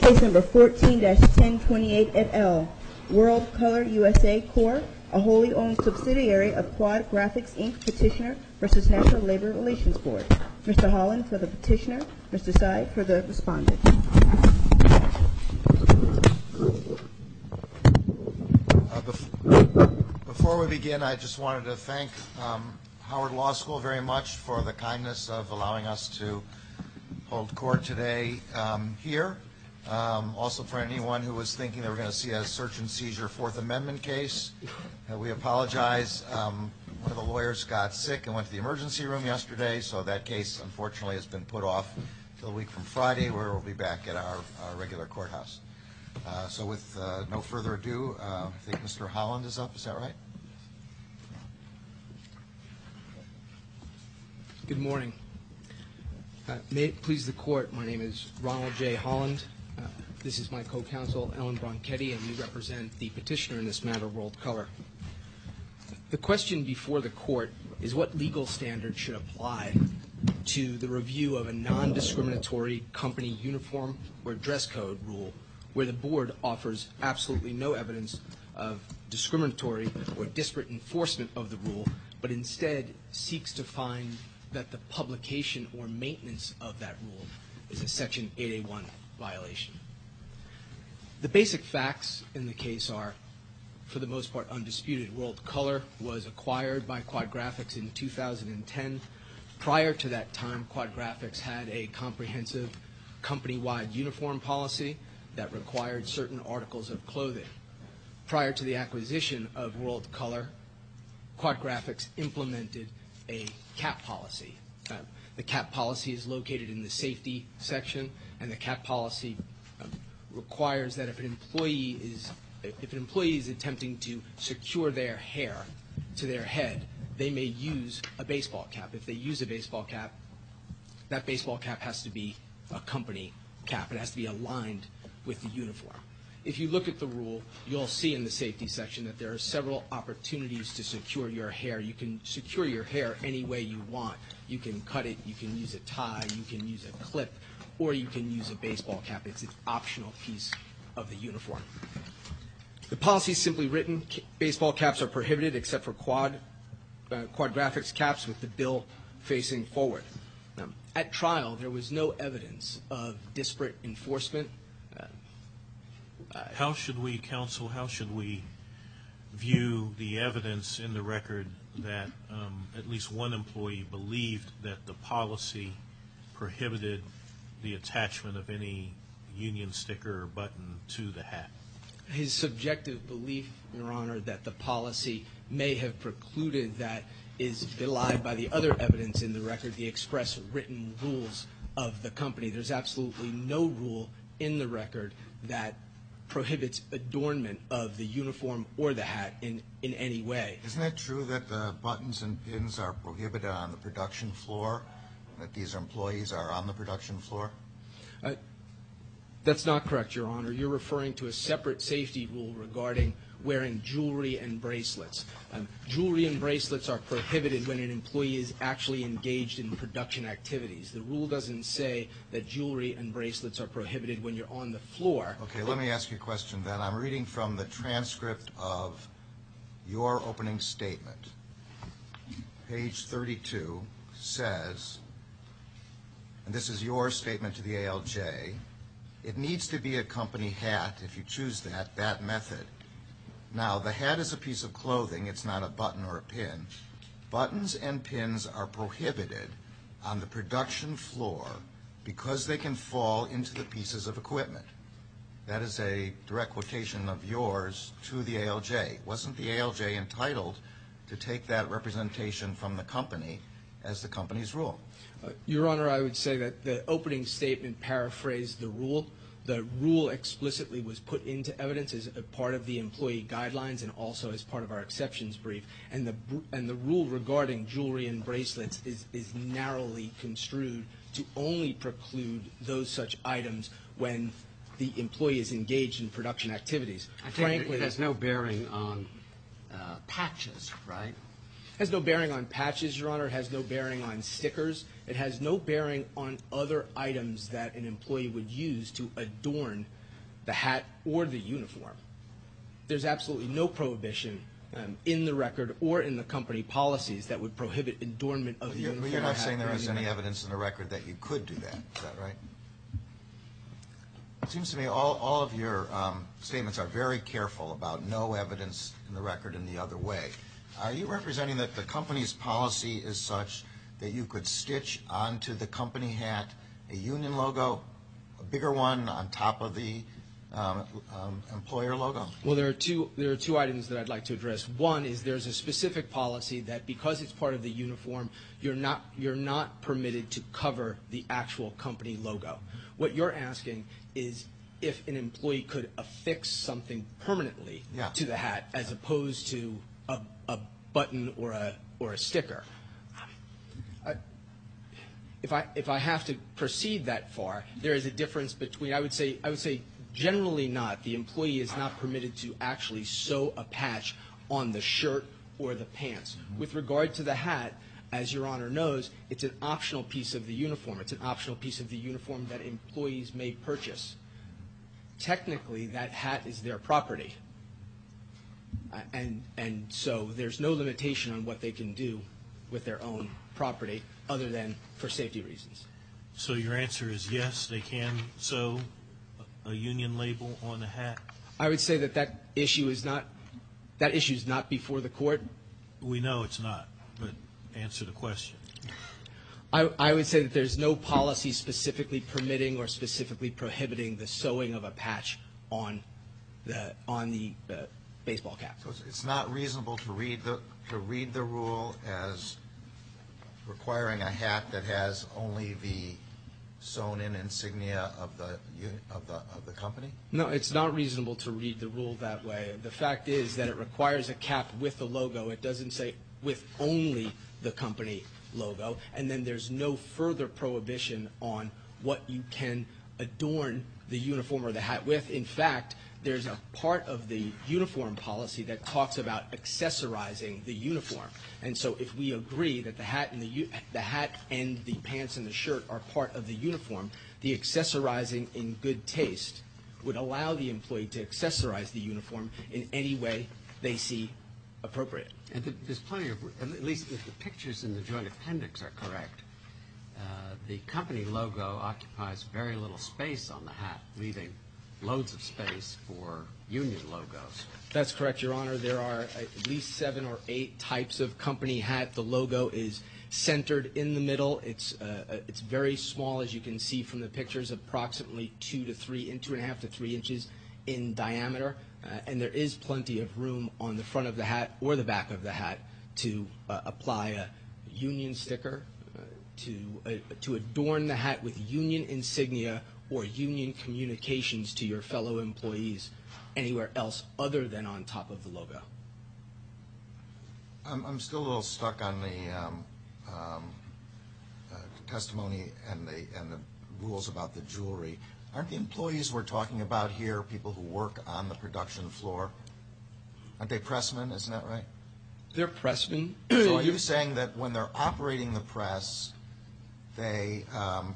Case No. 14-1028NL World Color USA Corp. A wholly owned subsidiary of Quad Graphics, Inc. Petitioner v. National Labor Relations Board Mr. Holland for the petitioner Mr. Sy for the respondent Before we begin, I just wanted to thank Howard Law School very much for the kindness of allowing us to hold court today Also, for anyone who was thinking they were going to see a search and seizure Fourth Amendment case we apologize One of the lawyers got sick and went to the emergency room yesterday so that case, unfortunately, has been put off for the week from Friday where we'll be back at our regular courthouse So with no further ado I think Mr. Holland is up, is that right? Good morning May it please the court, my name is Ronald J. Holland This is my co-counsel, Ellen Bronchetti and you represent the petitioner in this matter, World Color The question before the court is what legal standard should apply to the review of a non-discriminatory company uniform or dress code rule where the board offers absolutely no evidence of discriminatory or disparate enforcement of the rule but instead seeks to find that the publication or maintenance of that rule is a Section 8A1 violation The basic facts in the case are for the most part, undisputed World Color was acquired by Quad Graphics in 2010 Prior to that time, Quad Graphics had a comprehensive company-wide uniform policy that required certain articles of clothing Prior to the acquisition of World Color Quad Graphics implemented a cap policy The cap policy is located in the safety section and the cap policy requires that if an employee is if an employee is attempting to secure their hair to their head, they may use a baseball cap If they use a baseball cap that baseball cap has to be a company cap It has to be aligned with the uniform If you look at the rule, you'll see in the safety section that there are several opportunities to secure your hair You can secure your hair any way you want You can cut it, you can use a tie, you can use a clip or you can use a baseball cap It's an optional piece of the uniform The policy is simply written Baseball caps are prohibited except for Quad Graphics caps with the bill facing forward At trial, there was no evidence of disparate enforcement How should we, counsel, how should we view the evidence in the record that at least one employee believed that the policy prohibited the attachment of any union sticker or button to the hat? His subjective belief, Your Honor, that the policy may have precluded that is denied by the other evidence in the record, the express written rules of the company There's absolutely no rule in the record that prohibits adornment of the uniform or the hat in any way Isn't that true that buttons and pins are prohibited on the production floor, that these employees are on the production floor? That's not correct, Your Honor You're referring to a separate safety rule regarding wearing jewelry and bracelets Jewelry and bracelets are prohibited when an employee is actually engaged in production activities The rule doesn't say that jewelry and bracelets are prohibited when you're on the floor Okay, let me ask you a question, Ben I'm reading from the transcript of your opening statement Page 32 says, and this is your statement to the ALJ It needs to be a company hat if you choose that method Now, the hat is a piece of clothing It's not a button or a pin Buttons and pins are prohibited on the production floor because they can fall into the pieces of equipment That is a direct quotation of yours to the ALJ Wasn't the ALJ entitled to take that representation from the company as the company's rule? Your Honor, I would say that the opening statement paraphrased the rule The rule explicitly was put into evidence as part of the employee guidelines and also as part of our exceptions brief and the rule regarding jewelry and bracelets is narrowly construed to only preclude those such items when the employee is engaged in production activities Frankly, it has no bearing on patches, right? It has no bearing on patches, Your Honor It has no bearing on stickers It has no bearing on other items that an employee would use to adorn the hat or the uniform There's absolutely no prohibition in the record or in the company policies that would prohibit adornment of the uniform You're not saying there's any evidence in the record that you could do that, right? It seems to me all of your statements are very careful about no evidence in the record in the other way Are you representing that the company's policy is such that you could stitch onto the company hat a union logo, a bigger one on top of the employer logo? Well, there are two items that I'd like to address One is there's a specific policy that because it's part of the uniform you're not permitted to cover the actual company logo What you're asking is if an employee could affix something permanently to the hat as opposed to a button or a sticker If I have to proceed that far there is a difference between I would say generally not The employee is not permitted to actually sew a patch on the shirt or the pants With regard to the hat, as your Honor knows it's an optional piece of the uniform It's an optional piece of the uniform that employees may purchase Technically, that hat is their property And so there's no limitation on what they can do with their own property other than for safety reasons So your answer is yes, they can sew a union label on the hat? I would say that that issue is not that issue is not before the court We know it's not, but answer the question I would say that there's no policy specifically permitting or specifically prohibiting the sewing of a patch on the baseball cap It's not reasonable to read the rule as requiring a hat that has only the sewn-in insignia of the company? No, it's not reasonable to read the rule that way The fact is that it requires a cap with the logo It doesn't say with only the company logo And then there's no further prohibition on what you can adorn the uniform or the hat with In fact, there's a part of the uniform policy that talks about accessorizing the uniform And so if we agree that the hat and the pants and the shirt are part of the uniform the accessorizing in good taste would allow the employee to accessorize the uniform in any way they see appropriate At least if the pictures in the joint appendix are correct the company logo occupies very little space on the hat leaving loads of space for union logos That's correct, your honor There are at least 7 or 8 types of company hats The logo is centered in the middle It's very small, as you can see from the pictures approximately 2 to 3, 2.5 to 3 inches in diameter And there is plenty of room on the front of the hat or the back of the hat to apply a union sticker to adorn the hat with union insignia or union communications to your fellow employees anywhere else other than on top of the logo I'm still a little stuck on the testimony and the rules about the jewelry Aren't the employees we're talking about here people who work on the production floor? Aren't they pressmen, isn't that right? They're pressmen So are you saying that when they're operating the press they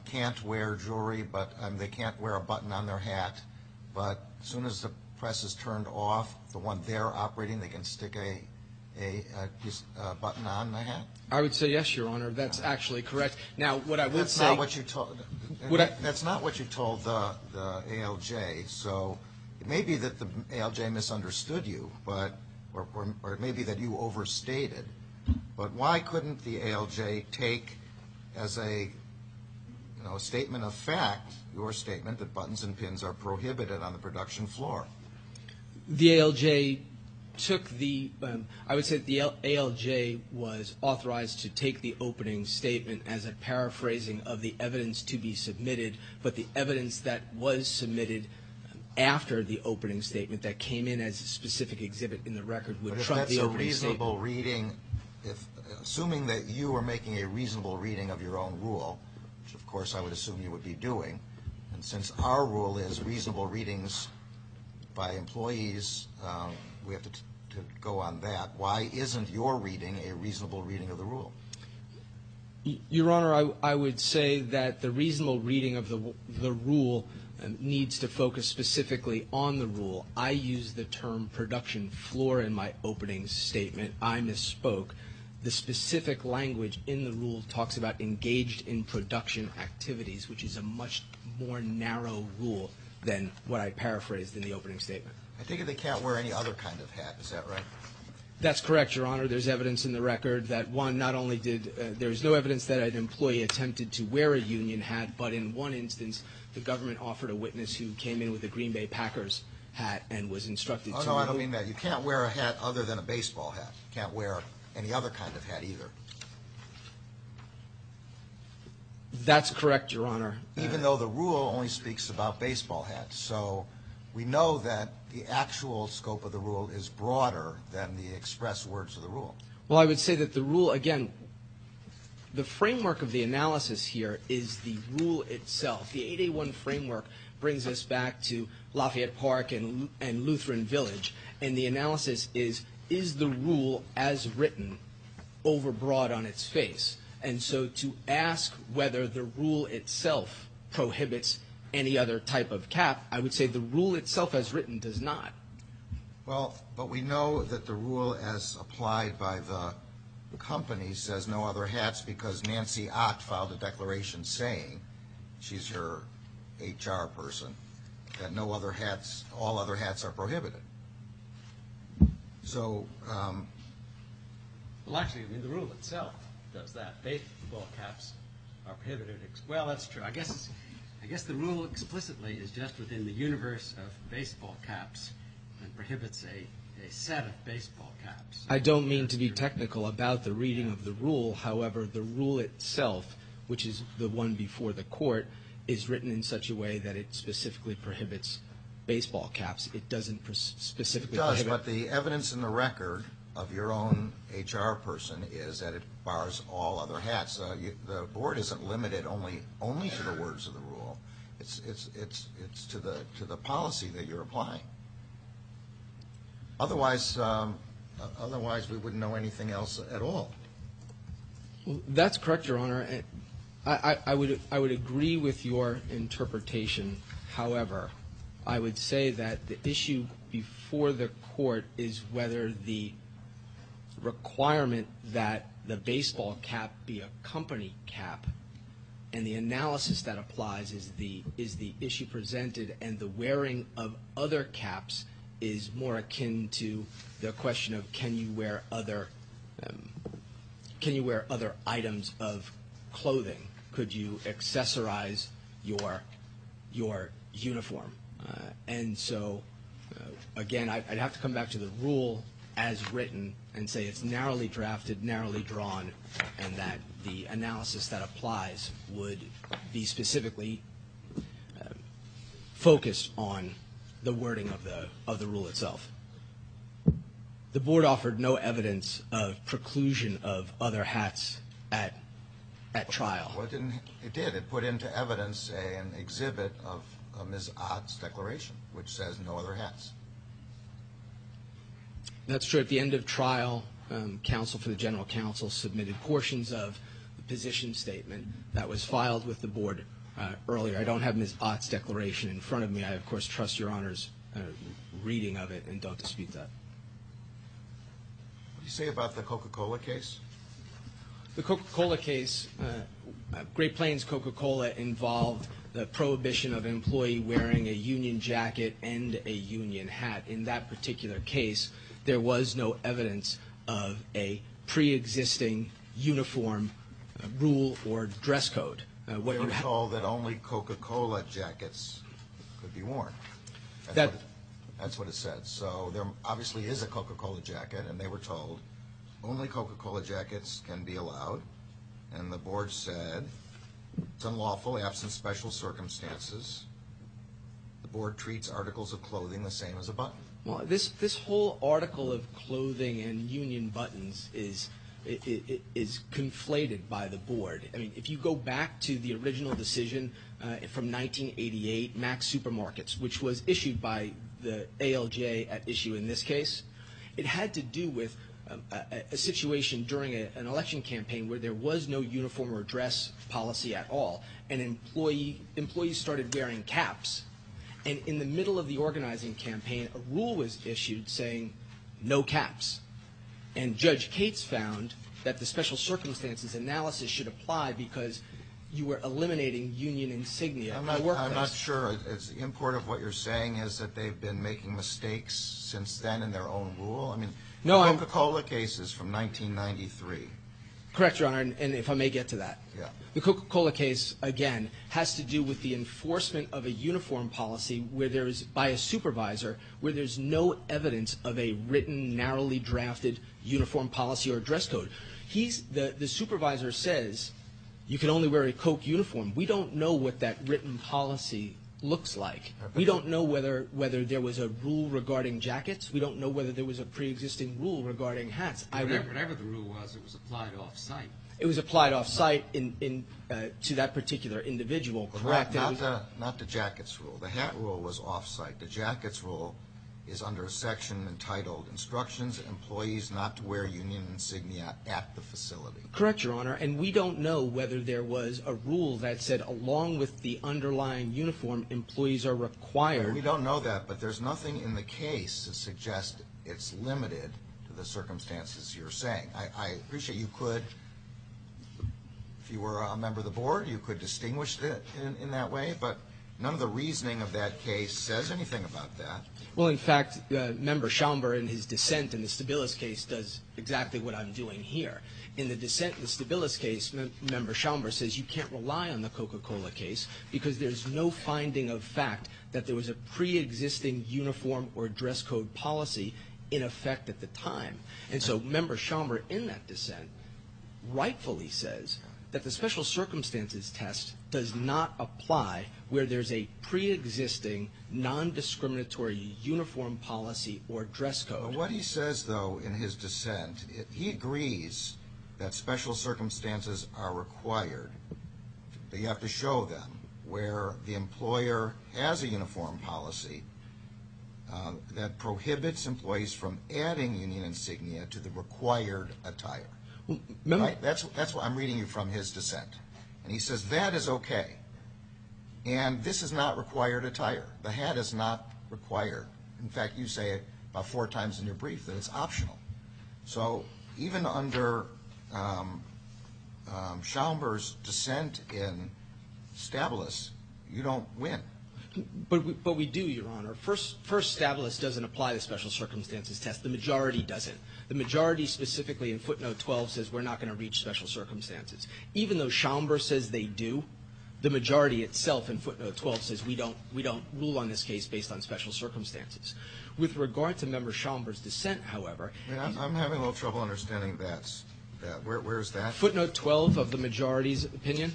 can't wear jewelry and they can't wear a button on their hat but as soon as the press is turned off the one they're operating they can stick a button on the hat? I would say yes, your honor That's actually correct Now what I would say That's not what you told the ALJ So it may be that the ALJ misunderstood you or it may be that you overstated but why couldn't the ALJ take as a statement of fact your statement that buttons and pins are prohibited on the production floor? The ALJ took the I would say the ALJ was authorized to take the opening statement as a paraphrasing of the evidence to be submitted but the evidence that was submitted after the opening statement that came in as a specific exhibit in the record would try to be a reasonable If that's a reasonable reading Assuming that you were making a reasonable reading of your own rule which of course I would assume you would be doing Since our rule is reasonable readings by employees we have to go on that Why isn't your reading a reasonable reading of the rule? Your honor, I would say that the reasonable reading of the rule needs to focus specifically on the rule I used the term production floor in my opening statement I misspoke The specific language in the rule talks about engaged in production activities which is a much more narrow rule than what I paraphrased in the opening statement I figure they can't wear any other kind of hat Is that right? That's correct, your honor There's evidence in the record that one not only did there's no evidence that an employee attempted to wear a union hat but in one instance the government offered a witness who came in with a Green Bay Packers hat and was instructed Oh no, I don't mean that You can't wear a hat other than a baseball hat You can't wear any other kind of hat either That's correct, your honor Even though the rule only speaks about baseball hats so we know that the actual scope of the rule is broader than the express words of the rule Well, I would say that the rule, again the framework of the analysis here is the rule itself The 8A1 framework brings us back to Lafayette Park and Lutheran Village and the analysis is Is the rule as written overbroad on its face? And so to ask whether the rule itself prohibits any other type of cap I would say the rule itself as written does not Well, but we know that the rule as applied by the company says no other hats because Nancy Ott filed a declaration saying, she's her HR person that no other hats all other hats are prohibited So, um Well, actually, I mean the rule itself does that Baseball caps are prohibited Well, that's true I guess the rule explicitly is just within the universe of baseball caps and prohibits a set of baseball caps I don't mean to be technical about the reading of the rule However, the rule itself which is the one before the court is written in such a way that it specifically prohibits baseball caps It doesn't specifically prohibit It does, but the evidence in the record of your own HR person is that it bars all other hats So, the board isn't limited only to the words of the rule It's to the policy that you're applying Otherwise, we wouldn't know anything else at all That's correct, your honor I would agree with your interpretation However, I would say that the issue before the court is whether the requirement that the baseball cap be a company cap and the analysis that applies is the issue presented and the wearing of other caps is more akin to the question of can you wear other items of clothing Could you accessorize your uniform And so, again, I'd have to come back to the rule as written and say it's narrowly drafted, narrowly drawn and that the analysis that applies would be specifically focused on the wording of the rule itself The board offered no evidence of preclusion of other hats at trial It did, it put into evidence an exhibit of Ms. Ott's declaration which says no other hats That's true, at the end of trial counsel for the general counsel submitted portions of the position statement that was filed with the board earlier I don't have Ms. Ott's declaration in front of me I, of course, trust your honor's reading of it and don't dispute that What did you say about the Coca-Cola case? The Coca-Cola case, Great Plains Coca-Cola involved the prohibition of an employee wearing a union jacket and a union hat In that particular case there was no evidence of a pre-existing uniform rule or dress code I recall that only Coca-Cola jackets could be worn That's what it said So there obviously is a Coca-Cola jacket and they were told only Coca-Cola jackets can be allowed and the board said it's unlawful in the absence of special circumstances The board treats articles of clothing the same as a button This whole article of clothing and union buttons is conflated by the board If you go back to the original decision from 1988, Max Supermarkets which was issued by the ALGA at issue in this case it had to do with a situation during an election campaign where there was no uniform or dress policy at all and employees started wearing caps and in the middle of the organizing campaign a rule was issued saying no caps and Judge Cates found that the special circumstances analysis should apply because you were eliminating union insignia I'm not sure if the import of what you're saying is that they've been making mistakes since then in their own rule Coca-Cola cases from 1993 Correct, Your Honor and if I may get to that The Coca-Cola case, again has to do with the enforcement of a uniform policy by a supervisor where there's no evidence of a written, narrowly drafted uniform policy or dress code The supervisor says you can only wear a Coke uniform We don't know what that written policy looks like We don't know whether there was a rule regarding jackets We don't know whether there was a pre-existing rule regarding hats Whatever the rule was it was applied off-site It was applied off-site to that particular individual Correct, not the jackets rule The hat rule was off-site The jackets rule is under a section entitled instructions employees not to wear union insignia at the facility Correct, Your Honor and we don't know whether there was a rule that said along with the underlying uniform employees are required We don't know that but there's nothing in the case to suggest it's limited to the circumstances you're saying I appreciate you could if you were a member of the board you could distinguish this in that way but none of the reasoning of that case says anything about that Well, in fact, Member Schaumber in his dissent in the Stabilis case does exactly what I'm doing here In the dissent in the Stabilis case Member Schaumber says you can't rely on the Coca-Cola case because there's no finding of fact that there was a pre-existing uniform or dress code policy in effect at the time and so Member Schaumber in that dissent rightfully says that the special circumstances test does not apply where there's a pre-existing non-discriminatory uniform policy or dress code What he says, though, in his dissent he agrees that special circumstances are required that you have to show them where the employer has a uniform policy that prohibits employees from adding union insignia to the required attire That's what I'm reading from his dissent and he says that is okay and this is not required attire The hat is not required In fact, you say it about four times in your brief that it's optional So even under Schaumber's dissent in Stabilis you don't win But we do, Your Honor First, Stabilis doesn't apply to special circumstances test The majority doesn't The majority specifically in footnote 12 says we're not going to reach special circumstances Even though Schaumber says they do the majority itself in footnote 12 says we don't rule on this case based on special circumstances With regard to Member Schaumber's I'm having a little trouble understanding that Where is that? Footnote 12 of the majority's opinion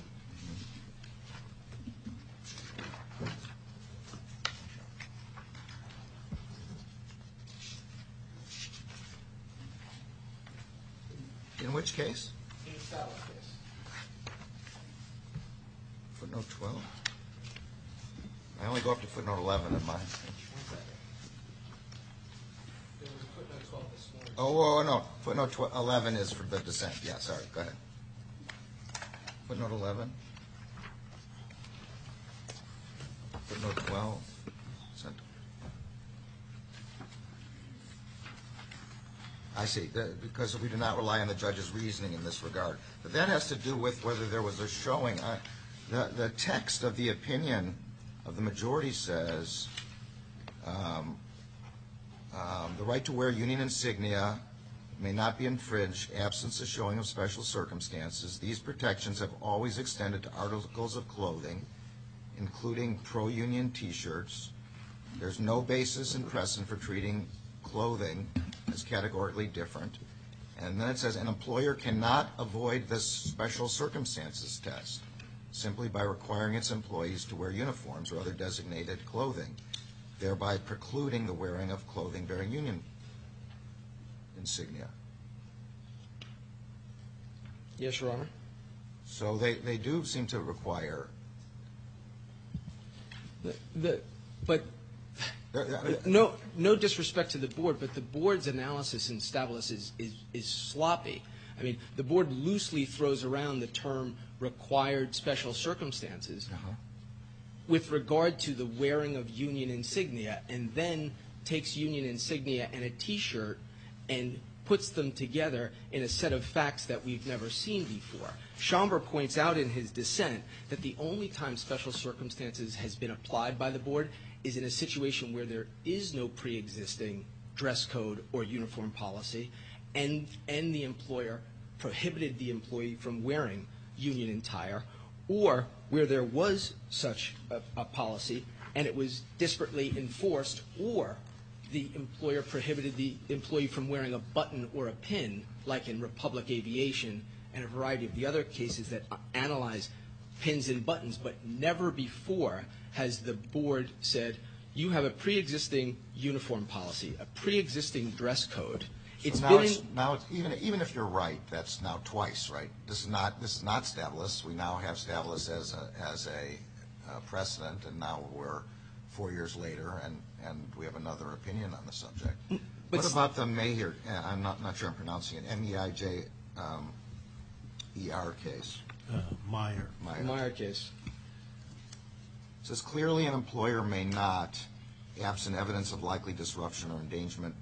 In which case? Footnote 12? I only go up to footnote 11 in my opinion Oh, no Footnote 11 is for good dissent Yeah, sorry, go ahead Footnote 11 Footnote 12 I see Because we do not rely on the judge's reasoning in this regard But that has to do with whether there was a showing The text of the opinion of the majority says The right to wear union insignia may not be infringed absence of showing of special circumstances These protections have always extended to articles of clothing including pro-union T-shirts There's no basis in Crescent for treating clothing as categorically different And then it says an employer cannot avoid this special circumstances test simply by requiring its employees to wear uniforms or other designated clothing thereby precluding the wearing of clothing bearing union insignia Yes, Your Honor So they do seem to require No disrespect to the board but the board's analysis in Stavros is sloppy I mean, the board loosely throws around the term required special circumstances with regard to the wearing of union insignia and then takes union insignia and a T-shirt and puts them together in a set of facts that we've never seen before Schomburg points out in his dissent that the only time special circumstances has been applied by the board is in a situation where there is no pre-existing dress code or uniform policy and the employer prohibited the employee from wearing union attire or where there was such a policy and it was disparately enforced or the employer prohibited the employee from wearing a button or a pin like in Republic Aviation and a variety of the other cases that analyze pins and buttons but never before has the board said you have a pre-existing uniform policy a pre-existing dress code Even if you're right that's now twice, right? This is not Stavros We now have Stavros as a precedent and now we're four years later and we have another opinion on the subject What about the Meijer I'm not sure I'm pronouncing it M-E-I-J-E-R case Meijer Meijer case It says clearly an employer may not, absent evidence of likely disruption or endangerment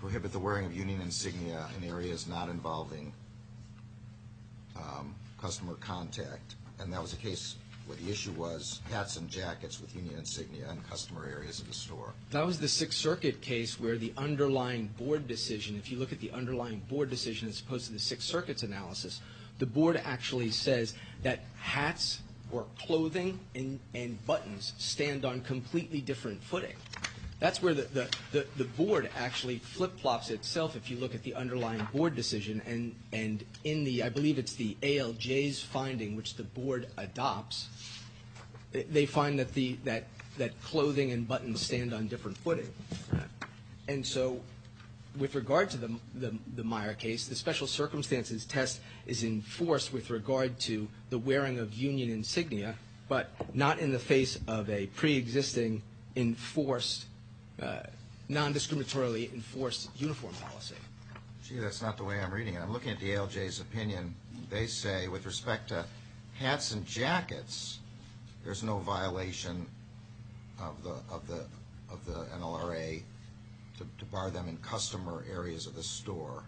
prohibit the wearing of union insignia in areas not involving customer contact and that was the case where the issue was they had some jackets with union insignia in customer areas of the store That was the Sixth Circuit case where the underlying board decision if you look at the underlying board decision as opposed to the Sixth Circuit's analysis the board actually says that hats or clothing and buttons stand on completely different footing That's where the board actually flip-flops itself if you look at the underlying board decision and in the I believe it's the ALJ's finding which the board adopts they find that clothing and buttons stand on different footing and so with regard to the Meijer case the special circumstances test is enforced with regard to the wearing of union insignia but not in the face of a pre-existing enforced non-discriminatorily enforced uniform policy Gee, that's not the way I'm reading it I'm looking at the ALJ's opinion They say with respect to hats and jackets there's no violation of the NLRA to bar them in customer areas of the store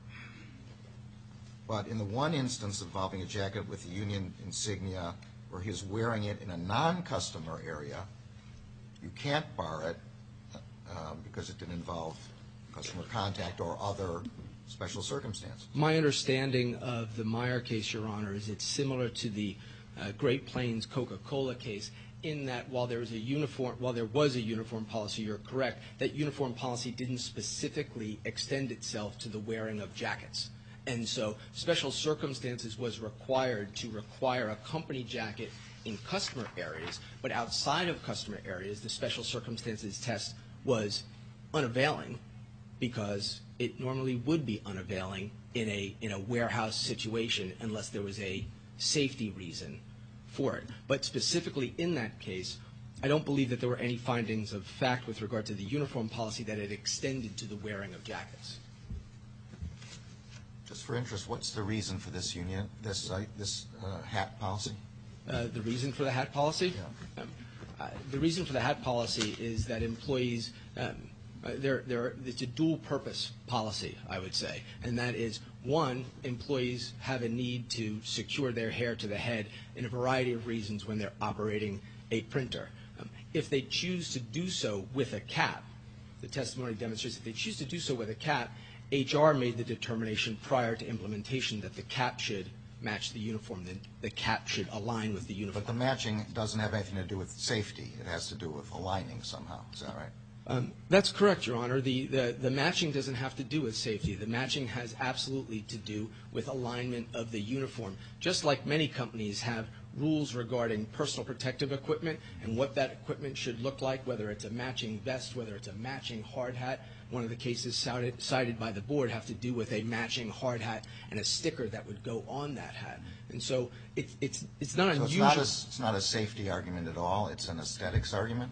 but in the one instance involving a jacket with a union insignia where he's wearing it in a non-customer area you can't bar it because it can involve customer contact or other special circumstances My understanding of the Meijer case, Your Honor is it's similar to the Great Plains Coca-Cola case in that while there is a uniform while there was a uniform policy you're correct that uniform policy didn't specifically extend itself to the wearing of jackets and so special circumstances was required to require a company jacket in customer areas but outside of customer areas the special circumstances test was unavailing because it normally would be unavailing in a warehouse situation unless there was a safety reason for it but specifically in that case I don't believe that there were any findings of fact with regard to the uniform policy that it extended to the wearing of jackets Just for interest what's the reason for this hat policy? The reason for the hat policy? The reason for the hat policy is that employees there's a dual purpose policy I would say and that is one employees have a need to secure their hair to the head in a variety of reasons when they're operating a printer if they choose to do so with a cap the testimony demonstrates if they choose to do so with a cap HR made the determination prior to implementation that the cap should match the uniform that the cap should align with the uniform but the matching doesn't have anything to do with safety it has to do with aligning somehow is that right? That's correct your honor the matching doesn't have to do with safety the matching has absolutely to do with alignment of the uniform just like many companies have rules regarding personal protective equipment and what that equipment should look like whether it's a matching vest whether it's a matching hard hat one of the cases cited by the board have to do with a matching hard hat and a sticker that would go on that hat and so it's not a safety argument at all it's an aesthetics argument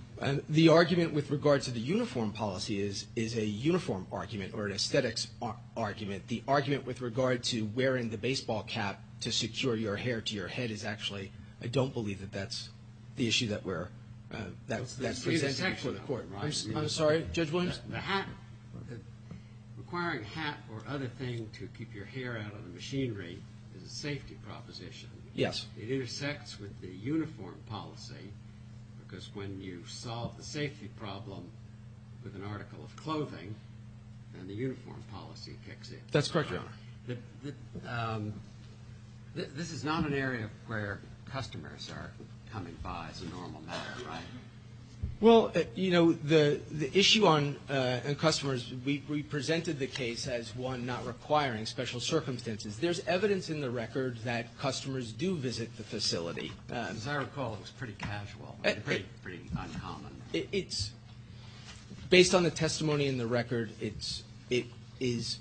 the argument with regards to the uniform policy is a uniform argument or an aesthetics argument the argument with regards to wearing the baseball cap to secure your hair to your head is actually I don't believe that that's the issue that presents to the court I'm sorry gentlemen the hat requiring a hat or other thing to keep your hair out of the machinery is a safety proposition it intersects with the uniform policy because when you solve the safety problem with an article of clothing and the uniform policy that's correct this is not an area where customers are coming by as a normal matter right well you know the issue on customers we presented the case as one not requiring special circumstances there's evidence in the record that customers do visit the facility as I recall it was pretty casual pretty uncommon it's based on the testimony in the record it's it is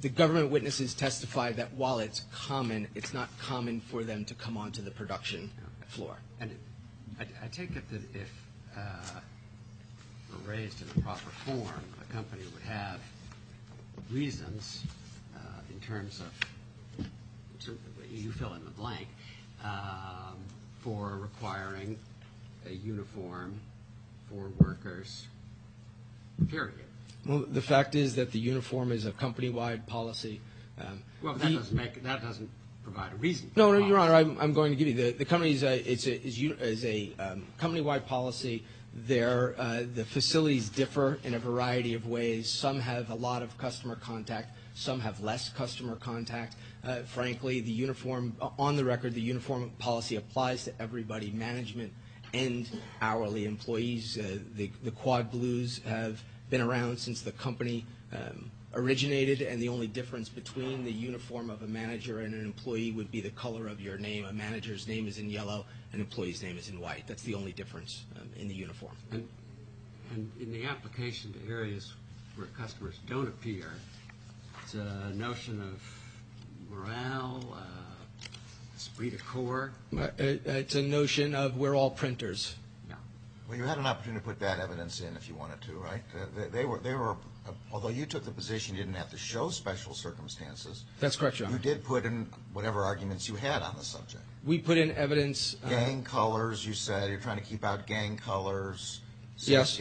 the government witnesses testified that while it's common it's not common for them to come on to the production floor I take it that if raised in proper form the company would have reasons in terms of you fill in the blank for requiring a uniform for workers very good well the fact is that the uniform is a company-wide policy well that doesn't provide a reason no your honor I'm going to give you the company is a company-wide policy there the facilities differ in a variety of ways some have a lot of customer contact some have less customer contact frankly the uniform on the record the uniform policy applies to everybody management and hourly employees the the quad blues have been around since the company originated and the only difference between the uniform of a manager and an employee would be the color of your name a manager's name is in yellow an employee's name is in white that's the only difference in the uniform in the application areas where customers don't appear the notion of morale esprit de corps it's a notion of we're all printers well you had an opportunity to put that evidence in if you wanted to right they were although you took the position you didn't have to show special circumstances that's correct you did put in whatever arguments you had on the subject we put in evidence gang colors you say you're trying to keep out gang colors yes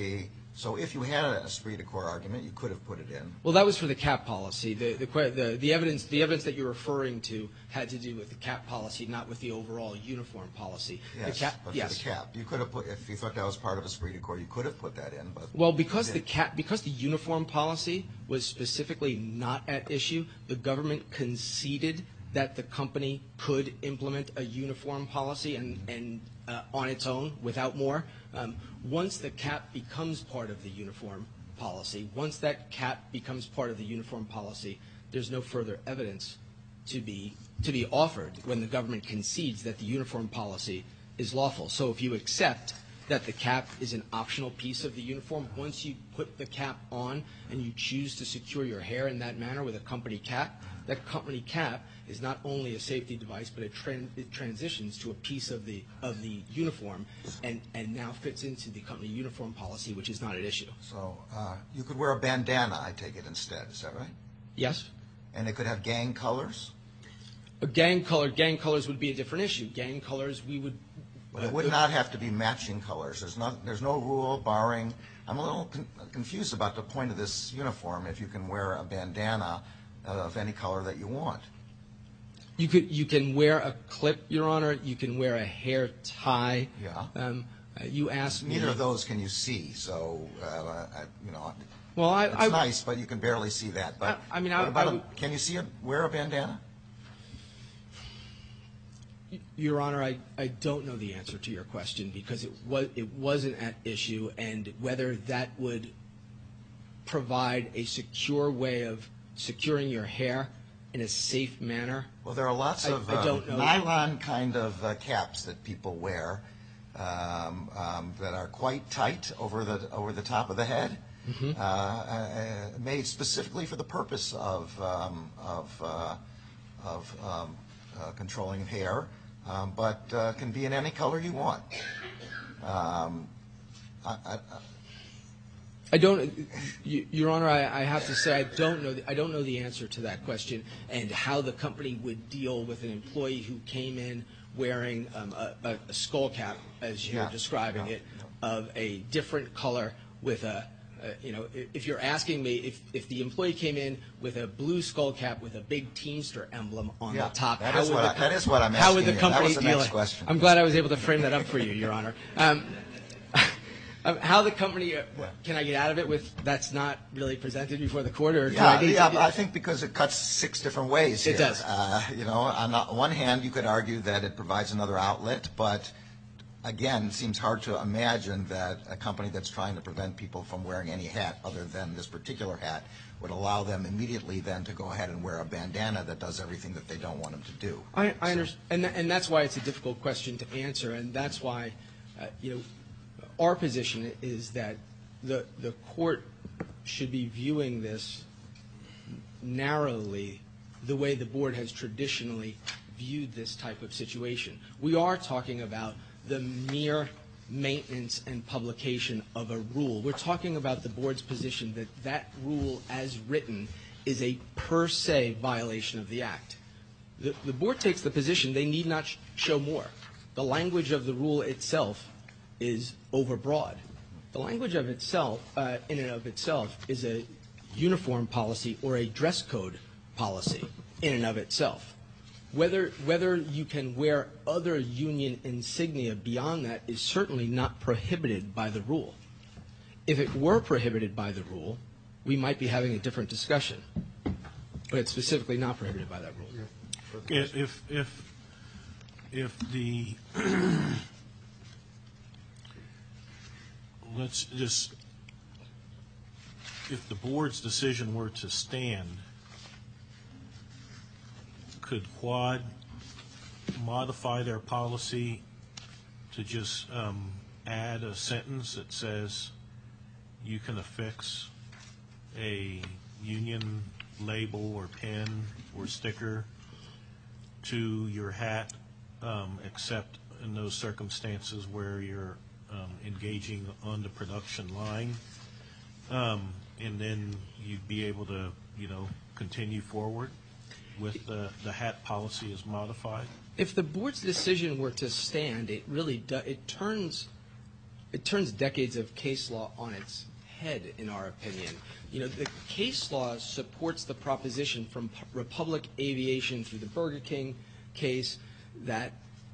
so if you had an esprit de corps argument you could have put it in well that was for the cap policy the evidence that you're referring to had to do with the cap policy not with the overall uniform policy yes you thought that was part of esprit de corps you could have put that in because the uniform policy was specifically not at issue the government conceded that the company could implement a uniform policy on its own without more once the cap becomes part of the uniform policy once that cap becomes part of the uniform policy there's no further evidence to be offered when the government concedes that the uniform policy is lawful so if you accept that the cap is an optional piece of the uniform once you put the cap on and you choose to secure your hair in that manner with a company cap that company cap is not only a safety device but it transitions to a piece of the uniform and now fits into the company uniform policy which is not at issue so you could wear a bandana I take it instead is that right yes and it could have gang colors gang colors would be a different issue gang colors we would it would not have to be matching colors there's no rule of barring I'm a little confused about the point of this uniform if you can wear a bandana of any color that you want you can wear a clip your honor you can wear a hair tie neither of those can you see so it's nice but you can barely see that can you Christian wear a bandana your honor I don't know the answer to your question because it wasn't at issue and whether that would provide a secure way of securing your hair in a safe manner there are lots of nylon kind of caps that people wear that are quite tight over the top of the head and they specifically for the purpose of controlling hair but can be in any color you want I don't your honor I have to say I don't know the answer to that question and how the company would deal with an employee who came in wearing a skull cap as a big teen star emblem on the top that is what I'm asking I'm glad I was able to frame that up for you your honor how the company can I get out of it that's not presented before the court I think because it cuts six different ways on one hand you could argue it provides another outlet but again it seems hard to imagine a company trying to prevent people from wearing any hat other than this particular hat would allow them to wear a bandana that does everything they don't want them to do that's why it's a difficult question to answer I don't think the board has traditionally viewed this type of situation we are talking about the mere maintenance and publication of a rule we're talking about the board's position that that rule as written is a per se violation of the act the board takes the position they need not show the patron of se violation of the act it's a per se violation of the act it's a patron of the rule of the act violation a patron of the act it's a patron of the rule of the act it's a patron of the act per violation the act it's a patron of the it's a patron of the act per se you can say very easily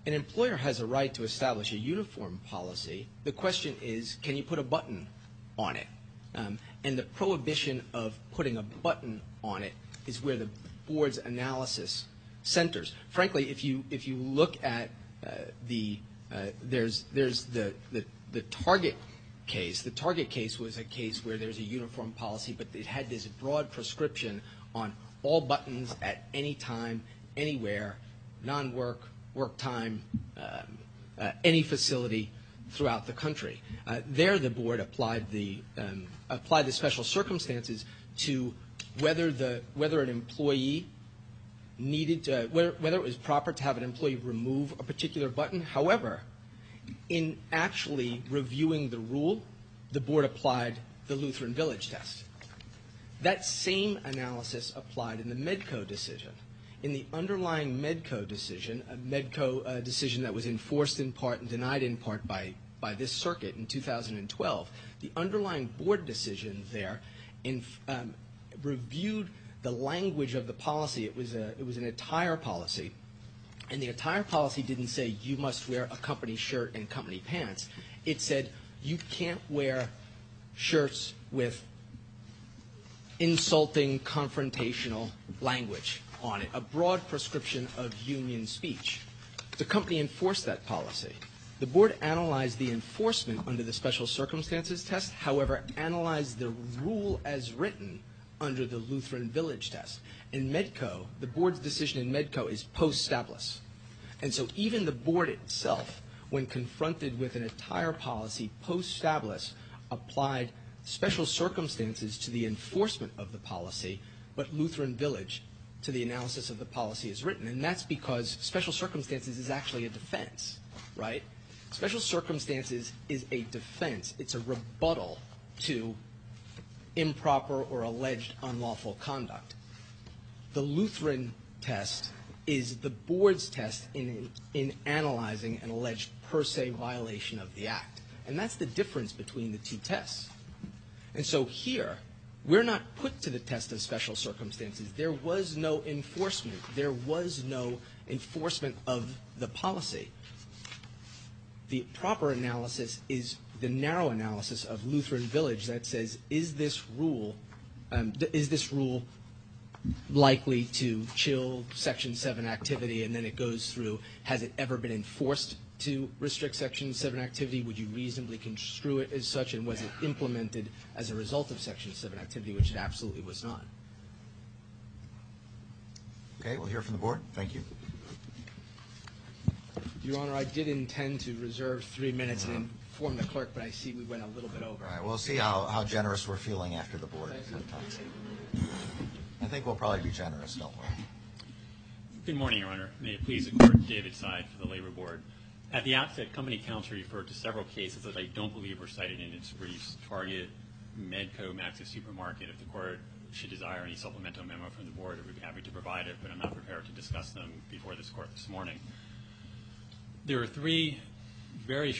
an employer has a right to establish a uniform policy the question is can you put a button on it and the prohibition of putting a button on it is where the board's analysis centers frankly if you look at the target case the target case was a case where there was a uniform policy all buttons at any time anywhere non-work work time any facility throughout the country there the board applied the special circumstances to whether an employee needed whether it was proper to have an employee remove a particular button however in actually reviewing the rule the board applied the Lutheran village test that same analysis applied in the Medco decision in the underlying Medco decision that was enforced in part and denied in part by this circuit in 2012 the underlying board decision there reviewed the language of the policy it was a broad prescription of union speech the company enforced that policy the board analyzed the enforcement however analyzed the rule as written under the Lutheran village test in Medco the board eliminated the proposition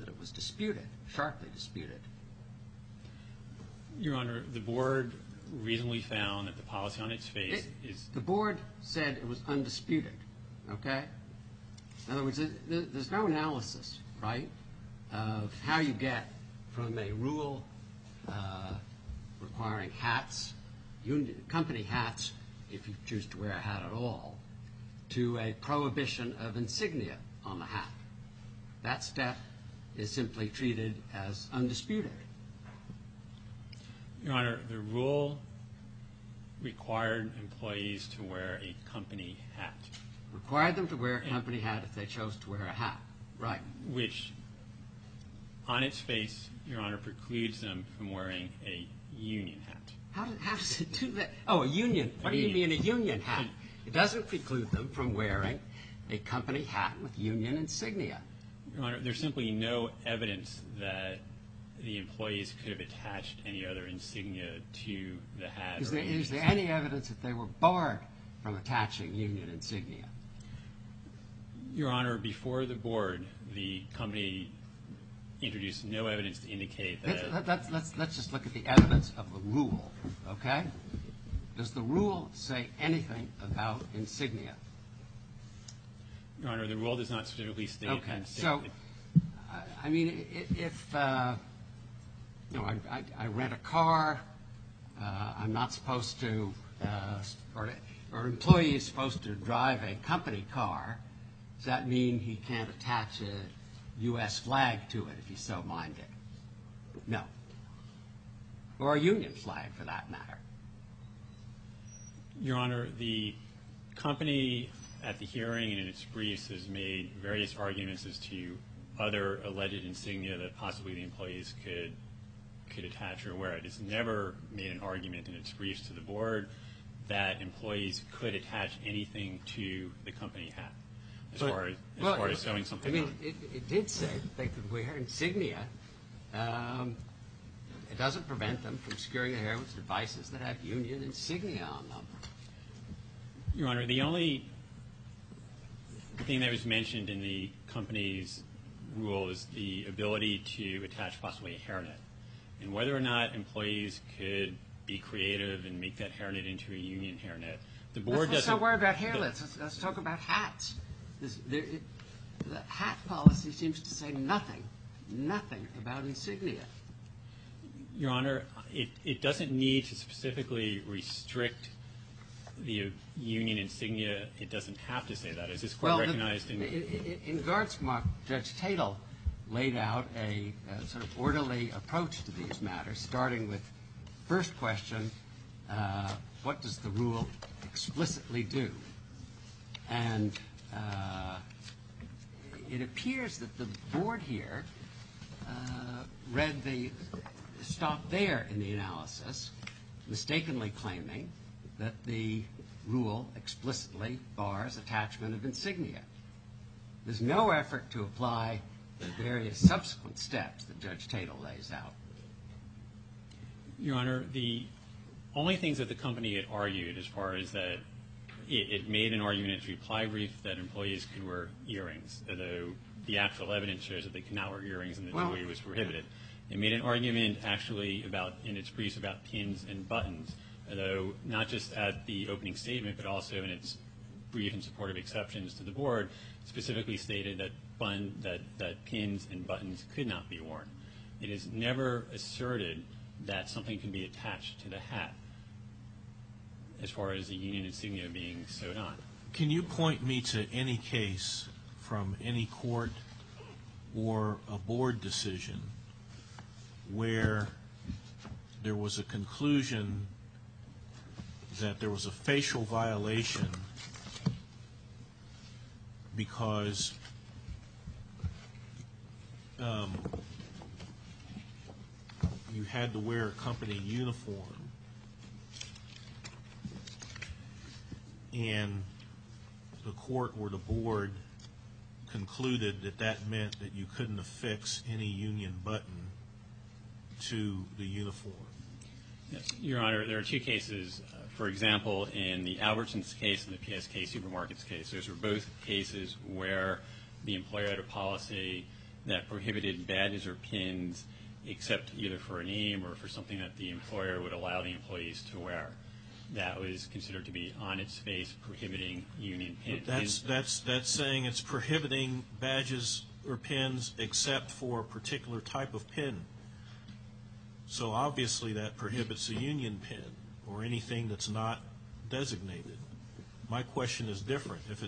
that it was disputed sharply disputed the board said it was undisputed there is no analysis of how you get from a rule requiring hats company hats if you choose to wear a hat at all to a prohibition of insignia on the hat that is treated as undisputed the rule required employees to wear a company hat they chose to wear a hat which on its face precludes them from wearing a union hat it doesn't preclude them from wearing a company hat with union insignia there is simply no evidence that the employees could have attached any other insignia to the hat is there any evidence that they were barred from attaching union insignia your honor before the board the company had introduced no evidence to indicate that let's just look at the evidence of the rule okay does the rule say anything about insignia your honor the rule does not specifically state so I mean if I rent a car I'm not supposed to or an employee is supposed to drive a company car does that mean he can't attach a U.S. flag to it if you so mind it no or a union flag for that matter your honor the company at the hearing in its brief has made various arguments to other alleged insignia that possibly the employees could attach never made an argument to the board that employees could attach anything to the company it doesn't prevent them from securing advice from the board your honor the only thing that was mentioned in the company's rule is the ability to attach possibly whether or not employees could be creative and make that into a union hairnet let's talk about hats the hat policy seems to say nothing nothing about insignia your honor it doesn't need to specifically restrict the union insignia it doesn't have to say that it is recognized by the board the thing was mentioned in the company's rule is the ability to attach possibly whether or not employees could be creative and make that into a union hairnet hat insignia your honor it doesn't have to specifically restrict the union insignia it doesn't have to say that employees could be into a union insignia it doesn't have to specifically state that pins and buttons could not be worn it is never asserted that something can be attached to the hat as far as the union insignia it doesn't have to state that it can be to you or to the uniform not necessarily being attached to the uniform but it does not have to be attached to the uniform and the court or the board concluded that that meant that you couldn't affix any union button to the uniform. Your Honor, there are two cases. For example, in the Albertsons case and the KSK supermarkets case, those are both cases where the employer had a policy that prohibited badges or pins from attached to the uniform. The court concluded that badges or pins were prohibited except for a particular type of pin. So obviously that prohibits a union pin or anything that's not designated. My question does the court have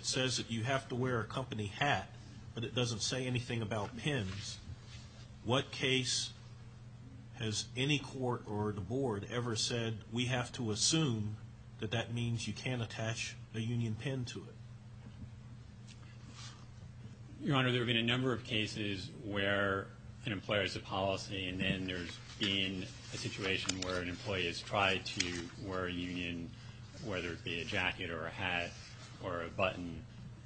to assume that that means you can't attach a union pin to it? Your Honor, there have been a number of cases where an employer has a policy and then there's been a situation where an employee has tried to wear a a pin to a particular union whether it be a jacket or a hat or a button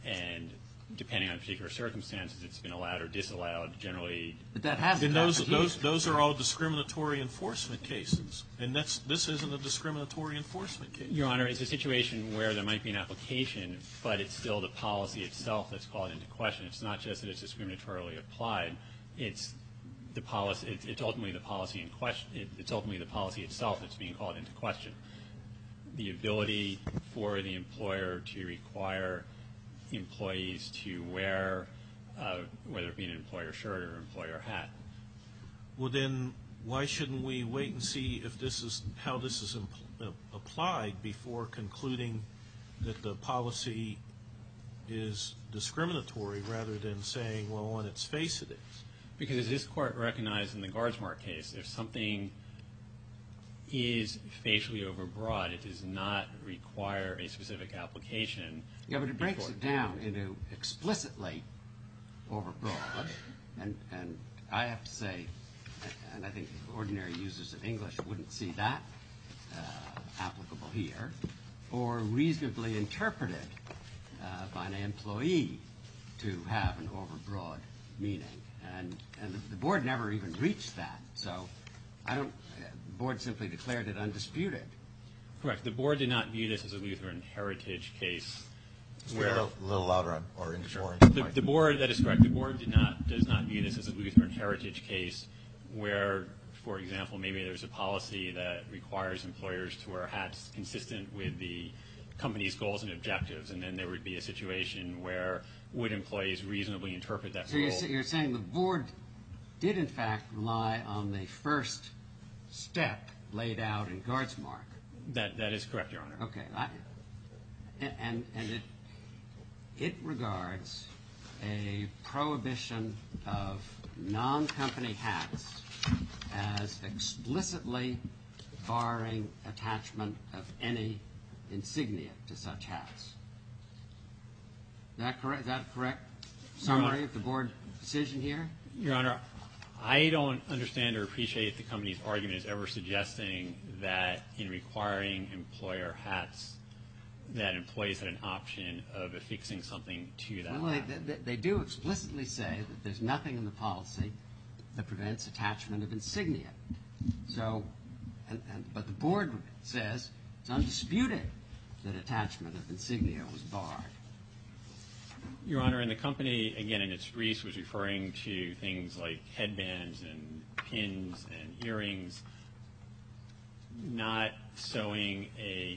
and depending on particular circumstances it's been allowed or disallowed generally. Those are all discriminatory enforcement cases and this isn't a discriminatory enforcement case. Your Honor, it's a situation where there might be an application but it's still the policy itself that's called into question. It's not just that it's discriminatorily applied. It's ultimately the policy itself that's being called into question. The ability for the employer to require employees to abide before concluding that the policy is discriminatory rather than saying, well, on its face it is. Because it is quite recognized in the Garzmar case that something is spatially overbroad. It does not require a specific application. Your Honor, to break it down into explicitly overbroad and I have to say, and I think ordinary users of English wouldn't see that applicable here, or reasonably interpreted by the employee to have an overbroad meaning. And the Board never even reached that. The Board simply declared it undisputed. Correct. The Board did not view this as a Lutheran heritage case. The Board does not view this as a Lutheran heritage case where, for example, maybe there's a policy that requires employers to wear hats consistent with the company's goals and objectives. And then there would be a situation where would employees interpret that goal. You're saying the Board did, in fact, rely on the first step laid out in court's mark. That is correct, Your Honor. Okay. And it regards a prohibition of non-company hats as explicitly barring attachment of any insignia to such hats. Is that correct? Is that a correct summary of the Board's decision here? Your Honor, I don't understand or appreciate the company's argument as ever suggesting that in requiring employer hats, that employs an option of affixing something to that. They do explicitly say that there's nothing in the policy that prevents attachment of insignia. So, but the Board says it's undisputed that attachment of insignia was barred. Your Honor, in the context says that there's nothing in the policy that prevents attachment of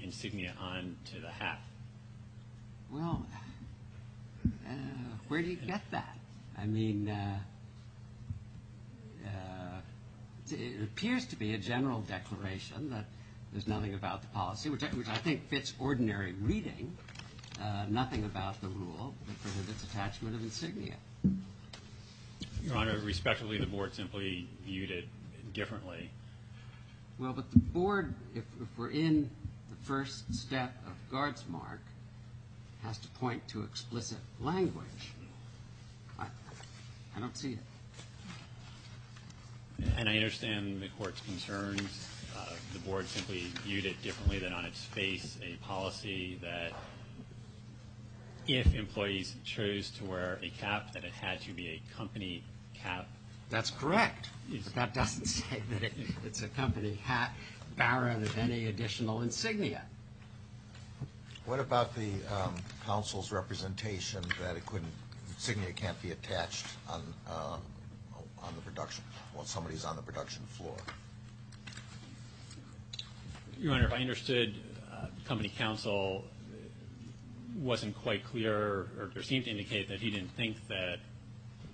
insignia to the hat. Well, where do you get that? I mean, it appears to be a general declaration that there's nothing about the policy, which I think fits ordinary reading, nothing about the rule for the attachment of insignia. Your Honor, respectively, the Board simply viewed it differently. Well, but the Board, if we're in the first step of guards mark, has to point to explicit language. I don't see it. And I understand the Court's concerns. The Board simply viewed it differently than on its face, a policy that if employees choose to wear a cap, that it has to be a company cap. That's correct. That doesn't say that it's a company cap barred as any additional insignia. What about the Council's representation that insignia can't be attached on the production floor? Your Honor, if I understood, the Company Council wasn't quite clear or seemed to indicate that he didn't think that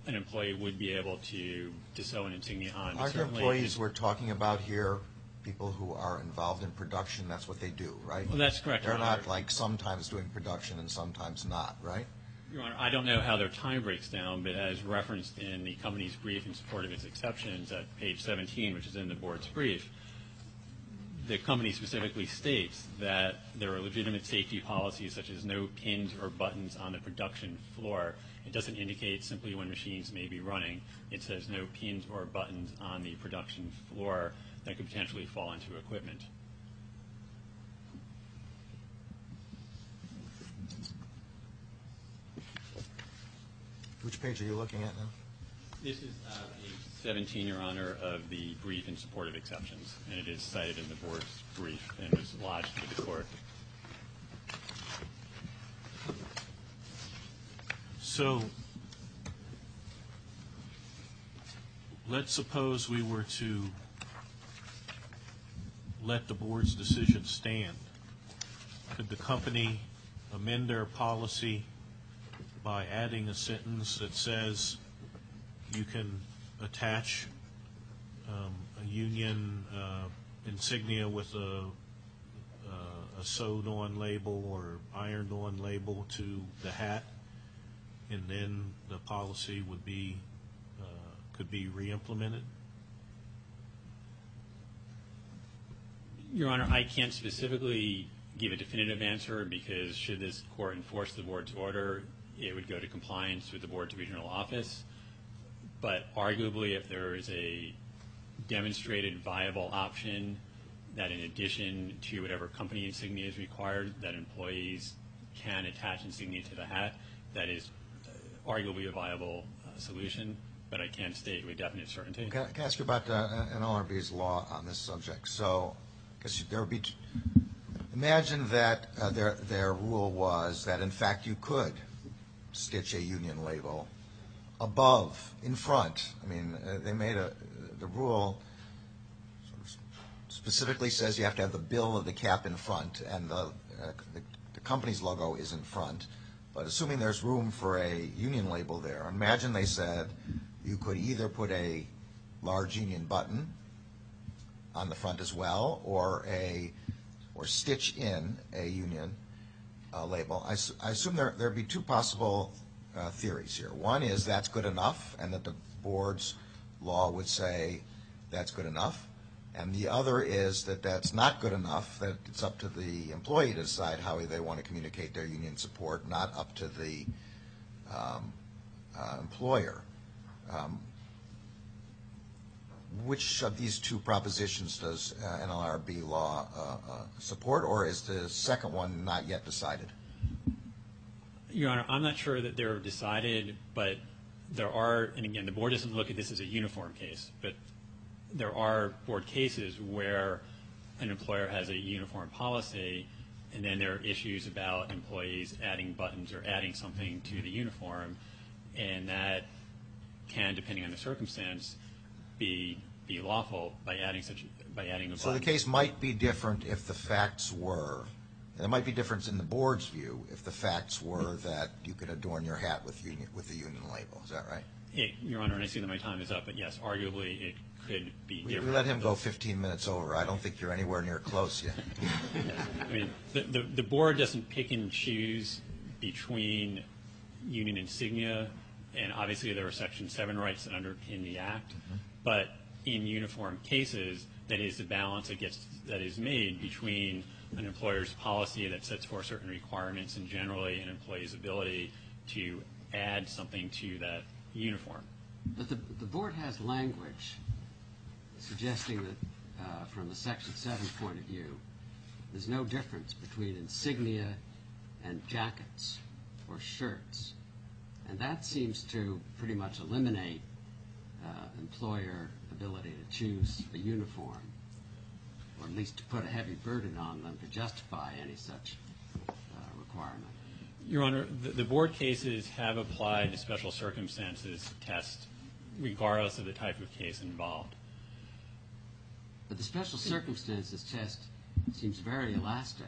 an insignia on the production floor. Are there employees we're talking about here, people who are involved in production and that's what they do, right? That's correct. They're not like sometimes doing production and sometimes not, right? Your Honor, I don't know how their time breaks down, but as referenced in the company's brief, the company specifically states that there are legitimate policies such as no pins or buttons on the production floor. It doesn't indicate simply when machines may be running. It says no pins or buttons on the production floor that could potentially fall into equipment. Which page are you looking at now? 17, Your Honor, of the brief in support of exceptions, and it is cited in the board's brief and it's lodged in the board. So let's suppose that we were to let the board's decision stand. Could the company amend their policy by adding a sentence that says you can attach a union insignia with a sewed-on label or ironed-on label to the hat, and then the policy would be could be re-implemented? Your Honor, I can't specifically give a definitive answer because should this court enforce the board's order, it would go to compliance with the board's regional office, but arguably if there is a demonstrated viable option that in addition to whatever company insignia is required, that employees can attach an insignia to the hat, that is arguably a viable solution, but I can't state my definite certainty. Can I ask you about NLRB's law on this subject? Imagine that their rule was that in fact you could stitch a union label above, in front. I mean, they made a rule specifically says you have to have the bill of the cap in front and the company's logo is in front. And assuming there's room for a union label there, imagine they said you could either put a large union button on the front as well or stitch in a union label. I assume there would be two possible theories here. One is that's good enough and that the board's law would say that's good enough, and the other is that that's not good enough, that it's up to the employer. Which of these two propositions does NLRB law support, or is the second one not yet decided? I'm not sure that they're decided, but there are, and again, the board doesn't look at this as a uniform case, but there are four cases where an employer has a uniform policy and then there are issues about employees adding buttons or adding something to the uniform, and that can, depending on the circumstance, be lawful by adding those buttons. So the case might be different if the facts were, and it might be different in the board's view if the facts were that you could adorn your hat with a union insignia. The board doesn't pick and choose between union insignia, and obviously there were section 7 rights that underpin the act, but in uniform cases that is the balance that is made between an employer's policy that sets for certain requirements and generally an employee's ability to add something to that uniform. But the board has language suggesting that from the section 7 point of view there's no difference between insignia and jackets or shirts, and that seems to pretty much eliminate employer ability to choose the uniform, or at least to put a heavy burden on them to justify any such requirement. Your Honor, the board cases have applied special circumstances tests regardless of the type of case involved. But the special circumstances test seems very elastic.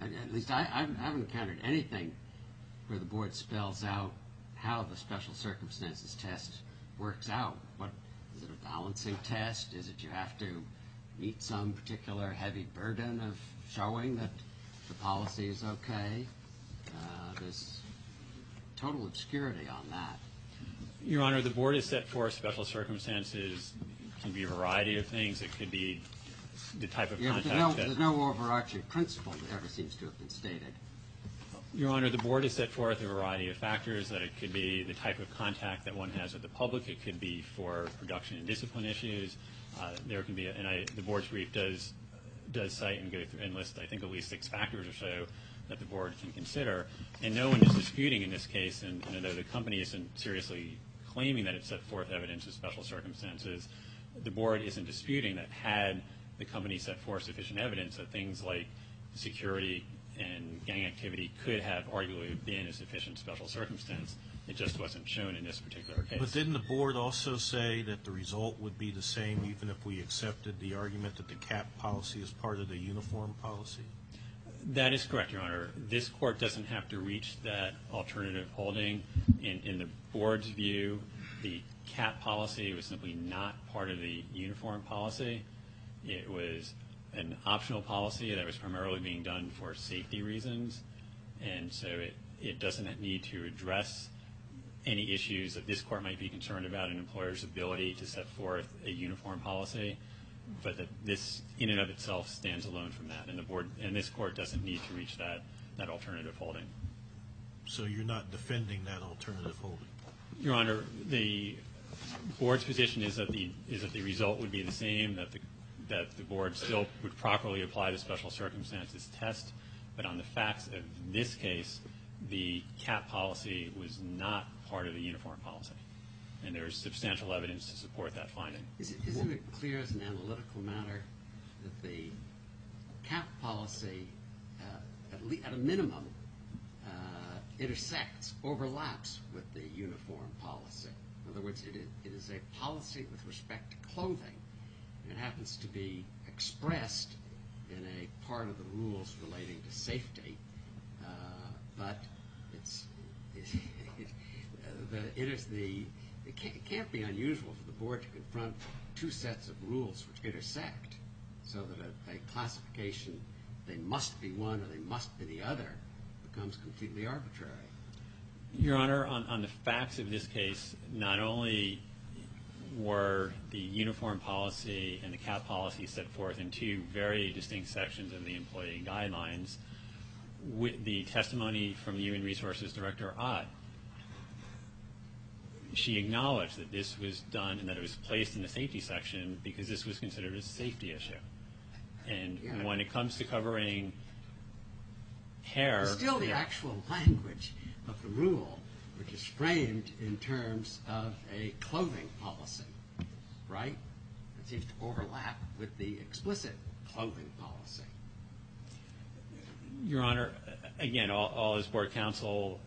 At least I haven't encountered anything where the board spells out how the special circumstances test works out. Is it a balancing test? Is it you have to meet some particular heavy burden of showing that the policy is okay? There's total obscurity on that. Your Honor, the board has set forth special circumstances can be a variety of things. It could be the type of contact. There's no overarching principle that ever seems to have been stated. Your Honor, the board's brief does cite and list at least six factors or so that the board can consider. No one is disputing in this case. The board isn't disputing that had the company set forth sufficient evidence that things like security and getting activity could have arguably been a sufficient special circumstance. It just wasn't shown in this particular case. Okay. But didn't the board also say that the result would be the same even if we accepted the argument that the cap policy is part of the uniform policy? That is correct, Your Honor. This court doesn't have to reach that alternative holding. In the board's view, the cap policy was simply not part of the uniform policy. The board may be concerned about an employer's ability to set forth a uniform policy, but this in and of itself stands alone from that, and this court doesn't need to reach that alternative holding. So you're not defending that alternative holding? Your Honor, the board's position is that the result would be the same if the policy was part of the uniform policy, and there is substantial support that finding. Isn't it clear as an analytical matter that the cap policy at a minimum intersects, overlaps, with the uniform policy? In other words, it is a policy with respect to clothing. It happens to be expressed in a part of the rules relating to safety, but it can't be unusual for the board to confront two sets of rules which intersect so that a classification, they must be one or they must be the other, becomes completely arbitrary. Your Honor, on the facts of this case, not only were the uniform policy and the cap policy set forth in two very distinct sections of the employee guidelines, the testimony from human resources director Ott, she acknowledged that this was done and that it was placed in the safety section because this was considered a safety issue, and when it comes to covering care... I feel the actual language of the rule, which is framed in terms of a clothing policy, right? It seems to overlap with the explicit clothing policy. Your Honor, again, all as board counsel,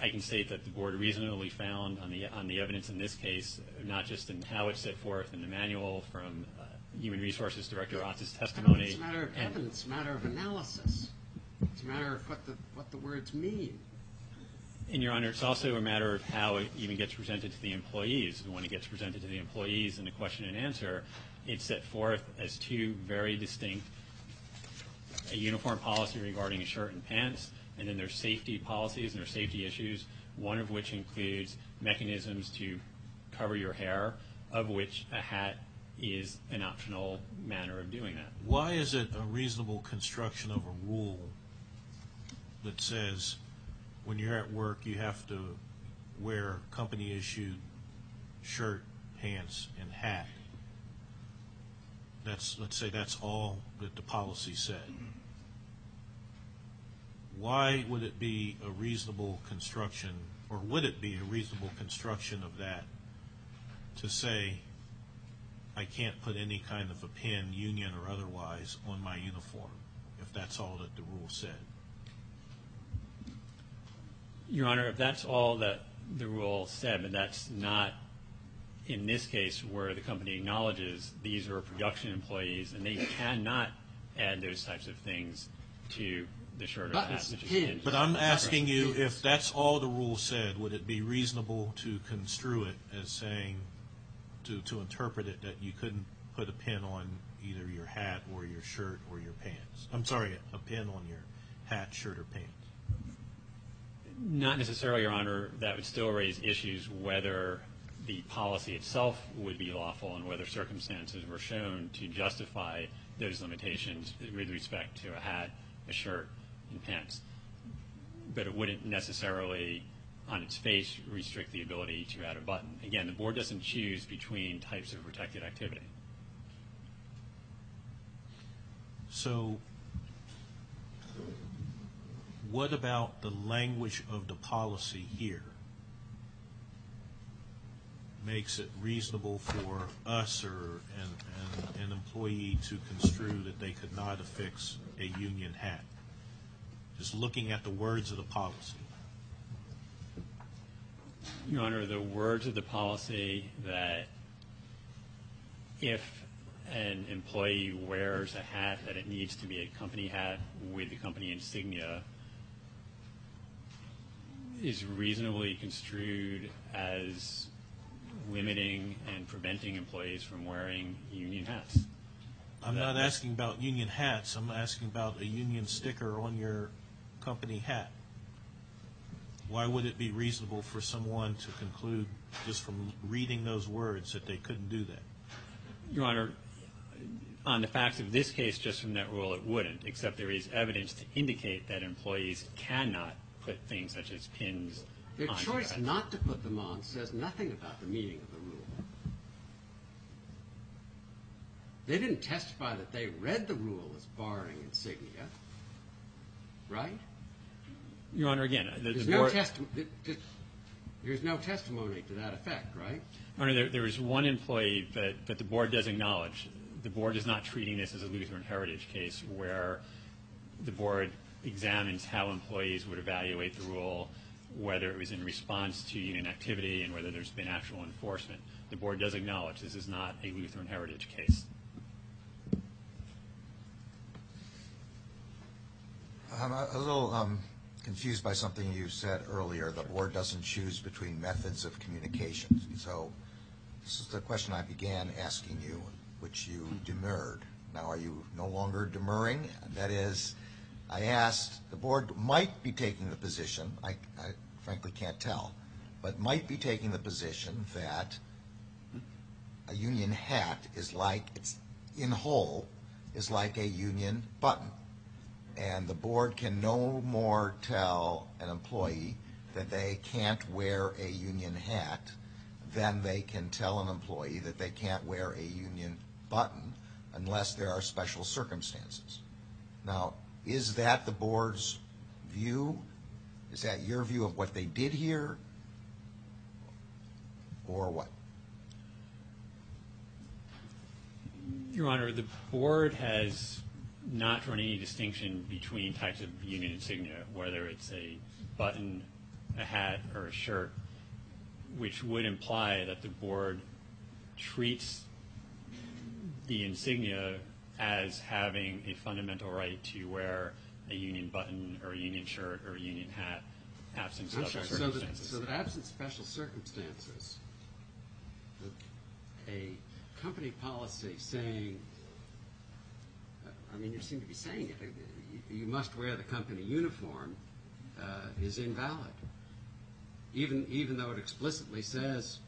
I can state that the board reasonably found on the evidence in this case, not just in how it's set forth in the manual from human resources director Ott's testimony... It's a matter of analysis. It's a matter of what the words mean. And, Your Honor, it's also a matter of how it even gets presented to the employees, and when it gets presented to the employees in the question and answer, it's set forth as two very distinct uniform policies regarding shirt and pants, and then there's safety policies and safety issues, one of which includes mechanisms to cover your hair, of which a hat is an optional part of there's safety policies and safety issues, and then there's a reasonable construction of a rule that says when you're at work you have to wear company issued shirt, pants, and hats. Let's say that's all that the policy said. Why would it be a reasonable construction, or would it be a reasonable construction of that to say I can't put any kind of a pen union or otherwise on my uniform if that's all that the rule said? Your Honor, if that's all that the rule said, then that's not in this case where the company acknowledges these are production employees and they cannot add those types of things to the shirt. But I'm asking you if that's all the rule said, would it be reasonable to construe it as saying, to interpret it that you couldn't put a pen on either your hat or your shirt or your pants? I'm sorry, a pen on your hat, shirt, or pants? Not necessarily, Your Honor. That would still raise issues whether the policy itself would be lawful and whether circumstances were shown to justify those limitations with respect to a hat, a shirt, and pants. But it wouldn't necessarily on its face restrict the ability to add a button. Again, the board doesn't choose between types of protected activity. So, what about the language of the policy here? Makes it reasonable for us or an employee to construe that they could not affix a union hat? Just looking at the words of the policy. Your Honor, the words of the that if an employee wears a hat that it needs to be a company hat with the company insignia is reasonably construed as limiting and preventing employees from wearing union hats. I'm not asking about union hats. I'm asking about the union sticker on your company hat. Why would it be reasonable for someone to conclude just from reading those words that they couldn't do that? Your Honor, on the fact that this case just in that rule, it wouldn't be reasonable to conclude that there is evidence to indicate that employees cannot put things such as pins on hats. The choice not to put them on says nothing about the meaning of the rule. They didn't testify that they read the rule as barring insignia. Right? Your Honor, again, there's no testimony to that effect, right? Your Honor, there's one employee that the Board does acknowledge. The Board is not treating this as a Lutheran heritage case where the Board examines how employees would evaluate the rule, whether it was in response to union activity and whether there's been actual enforcement. The Board does acknowledge this is not a Lutheran heritage case. case of union communications. So, this is the question I began asking you, which you demurred. Now, are you no longer demurring? That is, I asked, the Board might be taking the position, I frankly can't tell, but might be taking the position that a union hat is like, in whole, is like a union button. And the Board can no more tell an employee that they can't wear a union hat than they can tell an employee that they can't wear a union button unless there are special circumstances. Now, is that the Board's view? Is that your view of what they did here? Or what? Your Honor, the Board has not run any distinction between types of union insignia, whether it's a button, a hat, or a shirt, which would imply that the Board treats the insignia as having a fundamental right to wear a union button or a union shirt or a union hat as a special circumstance. A company policy saying, I mean, you seem to be saying you must wear the company uniform is invalid, even though it explicitly says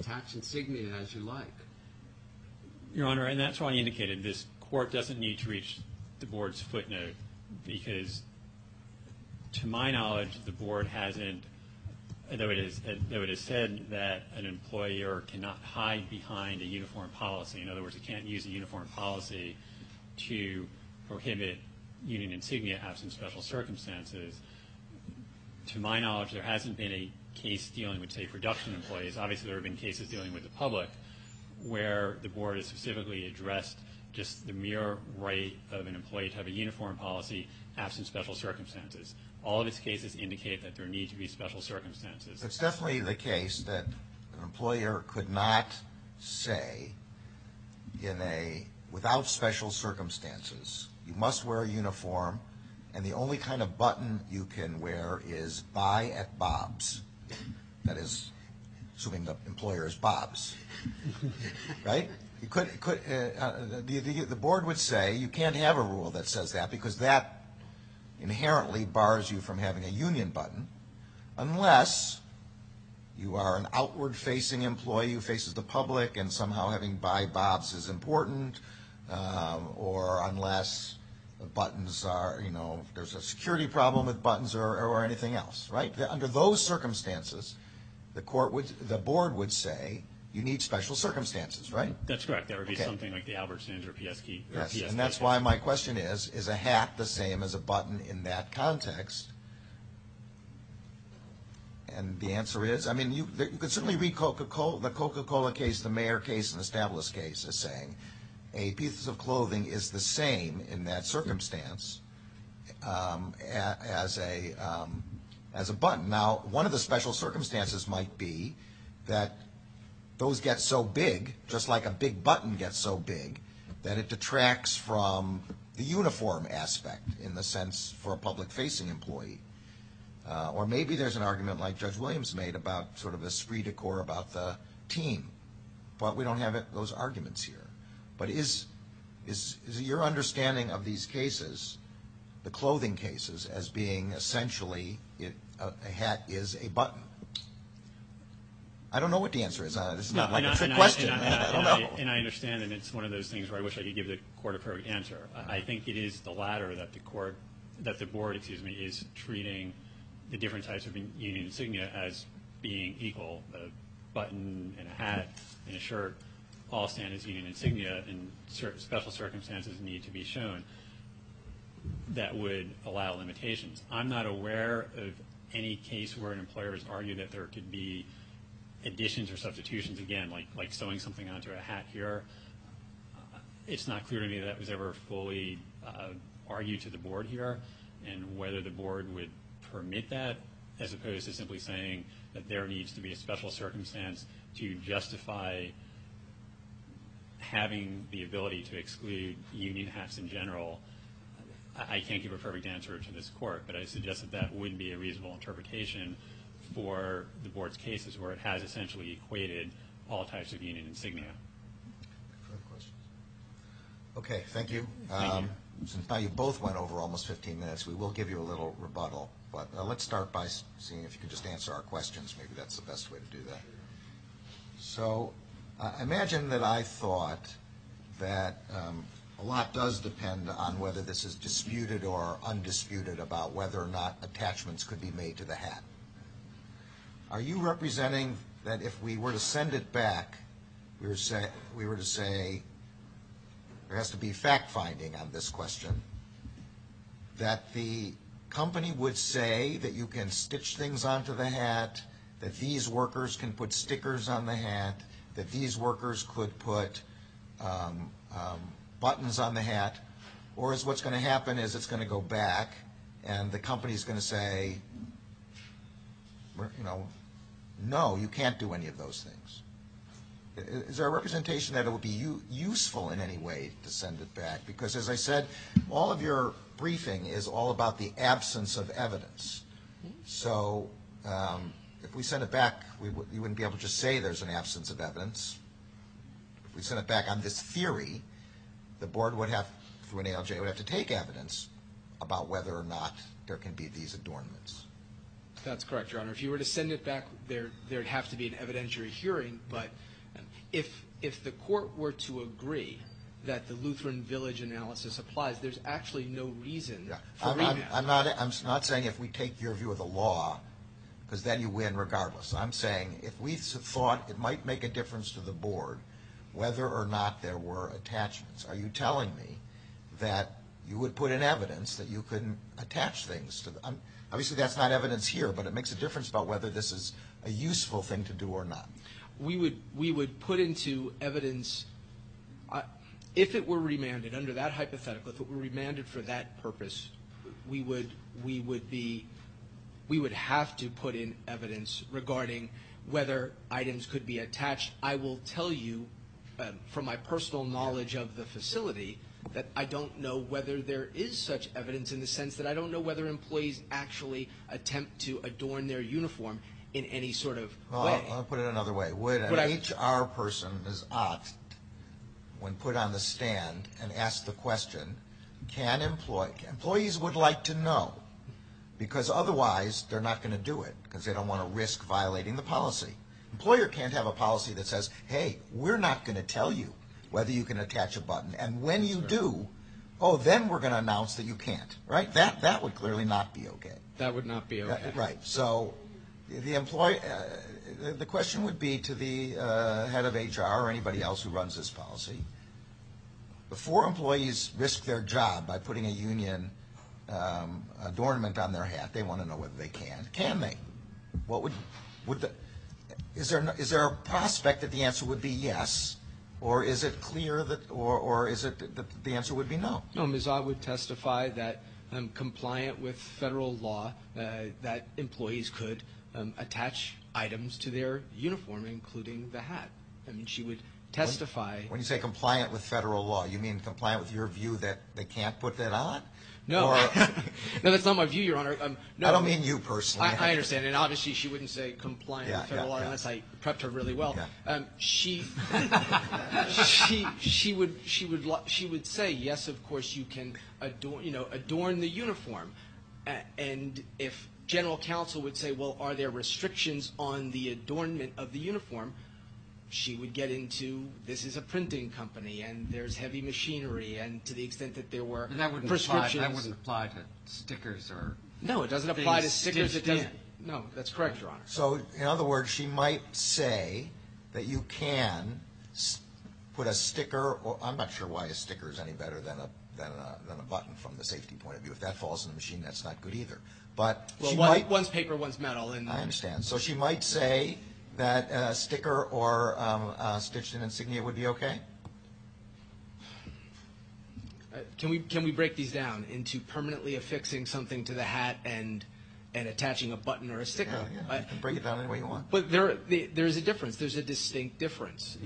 attach insignia as you like. Your Honor, and that's why I indicated this Court doesn't need to reach the Board's footnote because, to my knowledge, the Board hasn't, though it has said that an employer cannot hide behind a uniform policy. In other words, it can't use a uniform policy to prohibit union insignia absent special circumstances. To my knowledge, there hasn't been a case dealing with, say, production employees. Obviously, there have been cases dealing with the public where the Board has specifically stated that an employer could not say, in a, without special circumstances, you must wear a uniform and the only kind of button you can wear is buy at Bob's. That is, assuming the employer is Bob's. Right? The Board would say, you can't have a rule that says that because that inherently bars you from having a union button, unless you are an outward-facing employee who faces the public and somehow having buy at Bob's is important, or unless there's a security problem with buttons or anything else. Right? Under those circumstances, the Board would say, you need special circumstances. Right? That's correct. Okay. And that's why my question is, is a hat the same as a button in that context? And the answer is, I mean, you can certainly recall the Coca-Cola case, the Mayer case, and the Stavlis case as saying, a piece of clothing is the same in that circumstance as a button. Now, one of the special circumstances might be that those get so big, just like a big button gets so big, that it detracts from the uniform aspect in the sense for a public-facing employee. Or maybe there's an argument like Judge Williams made about sort of a hat is a button. I don't know what the answer is. It's not like a trick question. I don't know. And I understand that it's one of those things where I wish I could give the court a perfect answer. I think it is the latter that the court, that the board, excuse me, is treating the different types of buttons and hats and shirts and insignia in certain circumstances that would allow limitations. I'm not aware of any case where there could be additions or substitutions like sewing something onto a hat here. It's not clear to me if that was fully reasonable interpretation for the board's cases where it has essentially equated all types of union insignia. Okay. Thank you. Since now you both went over almost 15 minutes, we will give you a little rebuttal. Let's start by seeing if you can just answer our questions. Maybe that's the best way to do that. Imagine that I thought that a lot does depend on whether this is disputed or undisputed about whether or not attachments could be stitched the hat. Are you representing that if we were to send it back, we were to say there has to be fact-finding on this question, that the company would say that you can stitch things onto the hat, that these workers can put stickers on the hat, that these workers could put buttons on the hat, or what's going to happen is it's going to go back and the company is going to say, no, you can't do any of those things. Is there a representation that it would be useful in any way to send it back? Because as I said, all of your briefing is all about the absence of evidence. So, if we sent it back, you wouldn't be able to say there's an absence of evidence. If we sent it back on this theory, the board would have to take evidence about whether or not there can be these adornments. That's correct, Your Honor. If you were to say, I'm not saying if we take your view of the law, because then you win regardless. I'm saying if we thought it might make a difference to the board, whether or not there were attachments, are you telling me that you would put in evidence that you could attach things to it? Obviously, that's not evidence here, but it makes a difference about whether this is a useful thing to do or not. We would put into evidence, if it were remanded for that purpose, we would have to put in evidence regarding whether items could be attached. I will tell you from my personal experience, never seen employees actually attempt to adorn their uniform in any sort of way. I'll put it another way. When an HR person is asked when put on the stand and asked the question, employees would like to know, because otherwise they're not going to do it right. The question would be to the head of HR or anybody else who runs this policy, before employees risk their job by putting a union adornment on their hat, they want to know if they can. Can they? Is there a prospect that the answer would be yes, or is it clear that the answer is yes? I would testify that compliant with federal law, that employees could attach items to their uniform, including the hat. She would testify... When you say compliant with federal law, you mean compliant with your view that they can't put that on? No, that's not my view, Your Honor. I don't mean you personally. I understand, and obviously she wouldn't say compliant with federal law, unless I prepped her really well. She would say yes, of course, you can adorn the uniform, and if general counsel would say, well, are there restrictions on the adornment of the uniform, she would get into, this is a printing company, and there's no adornment of the uniform. So, in other words, she might say that you can put a sticker, I'm not sure why a sticker is any better than a button from the safety point of view. If that falls in the machine, that's not good either. I understand. So, she might say that a sticker or a stitched insignia would be okay? Can we break these down into permanently affixing something to the hat and attaching a button or a sticker? There's a distinct difference.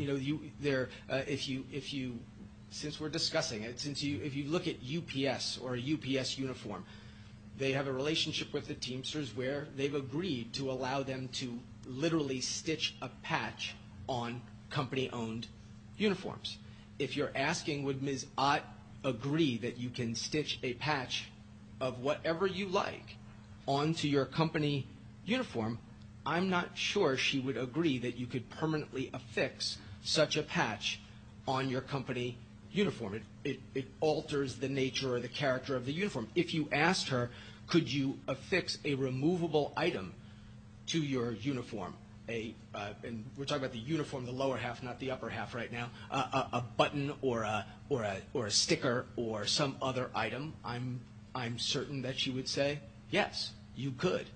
Since we're discussing it, if you look at UPS or UPS uniform, they have a relationship with the teamsters where they've agreed to allow them to literally stitch a patch on company-owned uniforms. If you're asking would Ms. Ott agree that you can stitch a patch of whatever you like onto your company uniform, I'm not sure she would agree that you could permanently affix such a patch on your company uniform. It alters the nature or the character of the uniform. If you asked her could you affix a removable item to your uniform, we're talking about the uniform, the lower half, not the upper half right now, a button or a sticker or some other item, I'm certain that she would say yes, you could,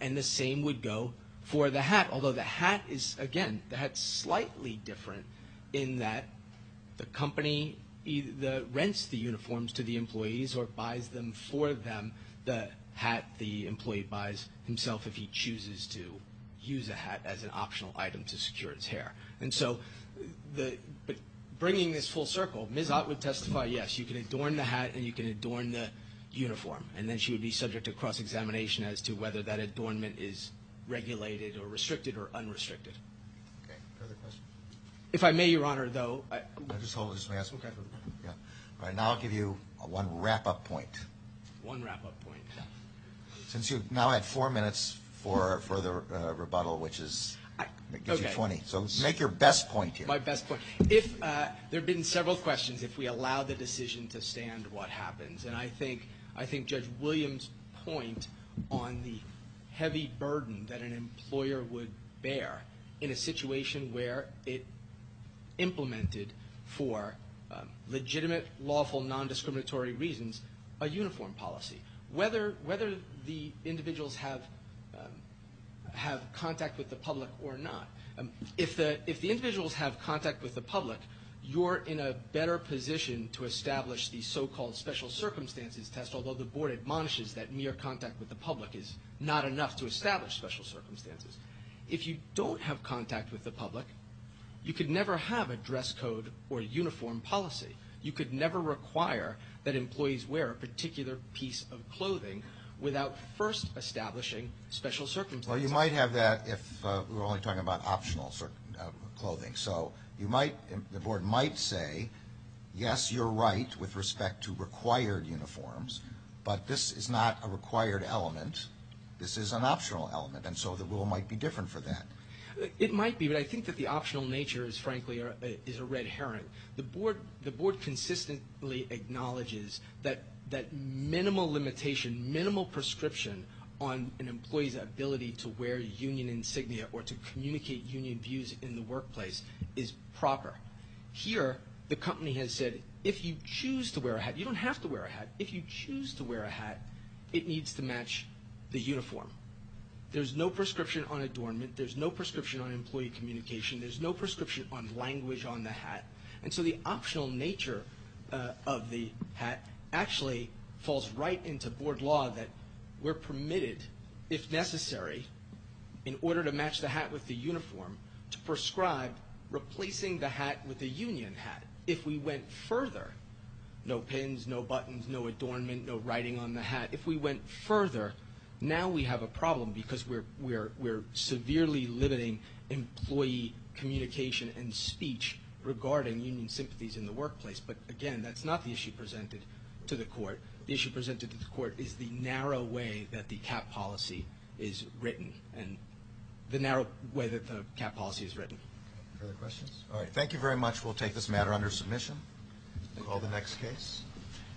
and the same would go for the hat, although the hat is slightly different in that the company rents the uniforms to the employees or buys them for them the hat the employee buys himself if he chooses to use the hat as an optional item to his uniform. And she would be subject to cross examination as to whether that adornment is regulated or restricted or unrestricted. If I may, your honor, though, I'll give you one wrap-up point. Since you now have four minutes for the rebuttal, make your best point here. My best point. There have been several questions if we allow the decision to stand, what happens. And I think Judge Williams' point on the heavy burden that an employer would bear in a situation where it implemented for legitimate, lawful, nondiscriminatory reasons a uniform policy. Whether the individuals have contact with the public or not. If the individuals have contact with the public, you're in a better position to establish the so-called special circumstances test, although the board admonishes that mere contact with the public is not enough to establish special circumstances. If you don't have contact with the public, you could never have a dress code or uniform policy. You could never require that employees wear a particular piece of clothing without first establishing special circumstances. Well, you might have that if we're only talking about optional clothing. So the board might say, yes, you're right with respect to required uniforms, but this is not a required element. This is an optional element, and so the rule might be different for that. It might be, I mean, I think that the optional nature is frankly a red herring. The board consistently acknowledges that minimal limitation, minimal prescription on an employee's ability to wear union insignia or to communicate union views in the workplace is proper. Here, the company has said, if you choose to wear a hat, you don't have to wear a hat. There's no prescription on language on the hat, and so the optional nature of the hat actually falls right into board law that we're permitted, if necessary, in order to match the hat with the uniform, to prescribe replacing the hat with a union hat. If we went further, no pins, no buttons, no adornment, no writing on the hat, if we went further, now we have a problem because we're severely limiting employee communication and speech regarding union sympathies in the workplace, but again, that's not the issue presented to the court. The issue presented to the court is the narrow way that the cap policy is written, and the narrow way that the cap policy is written. Any other questions? All right, thank you very much. We'll take this matter under submission and call the next case.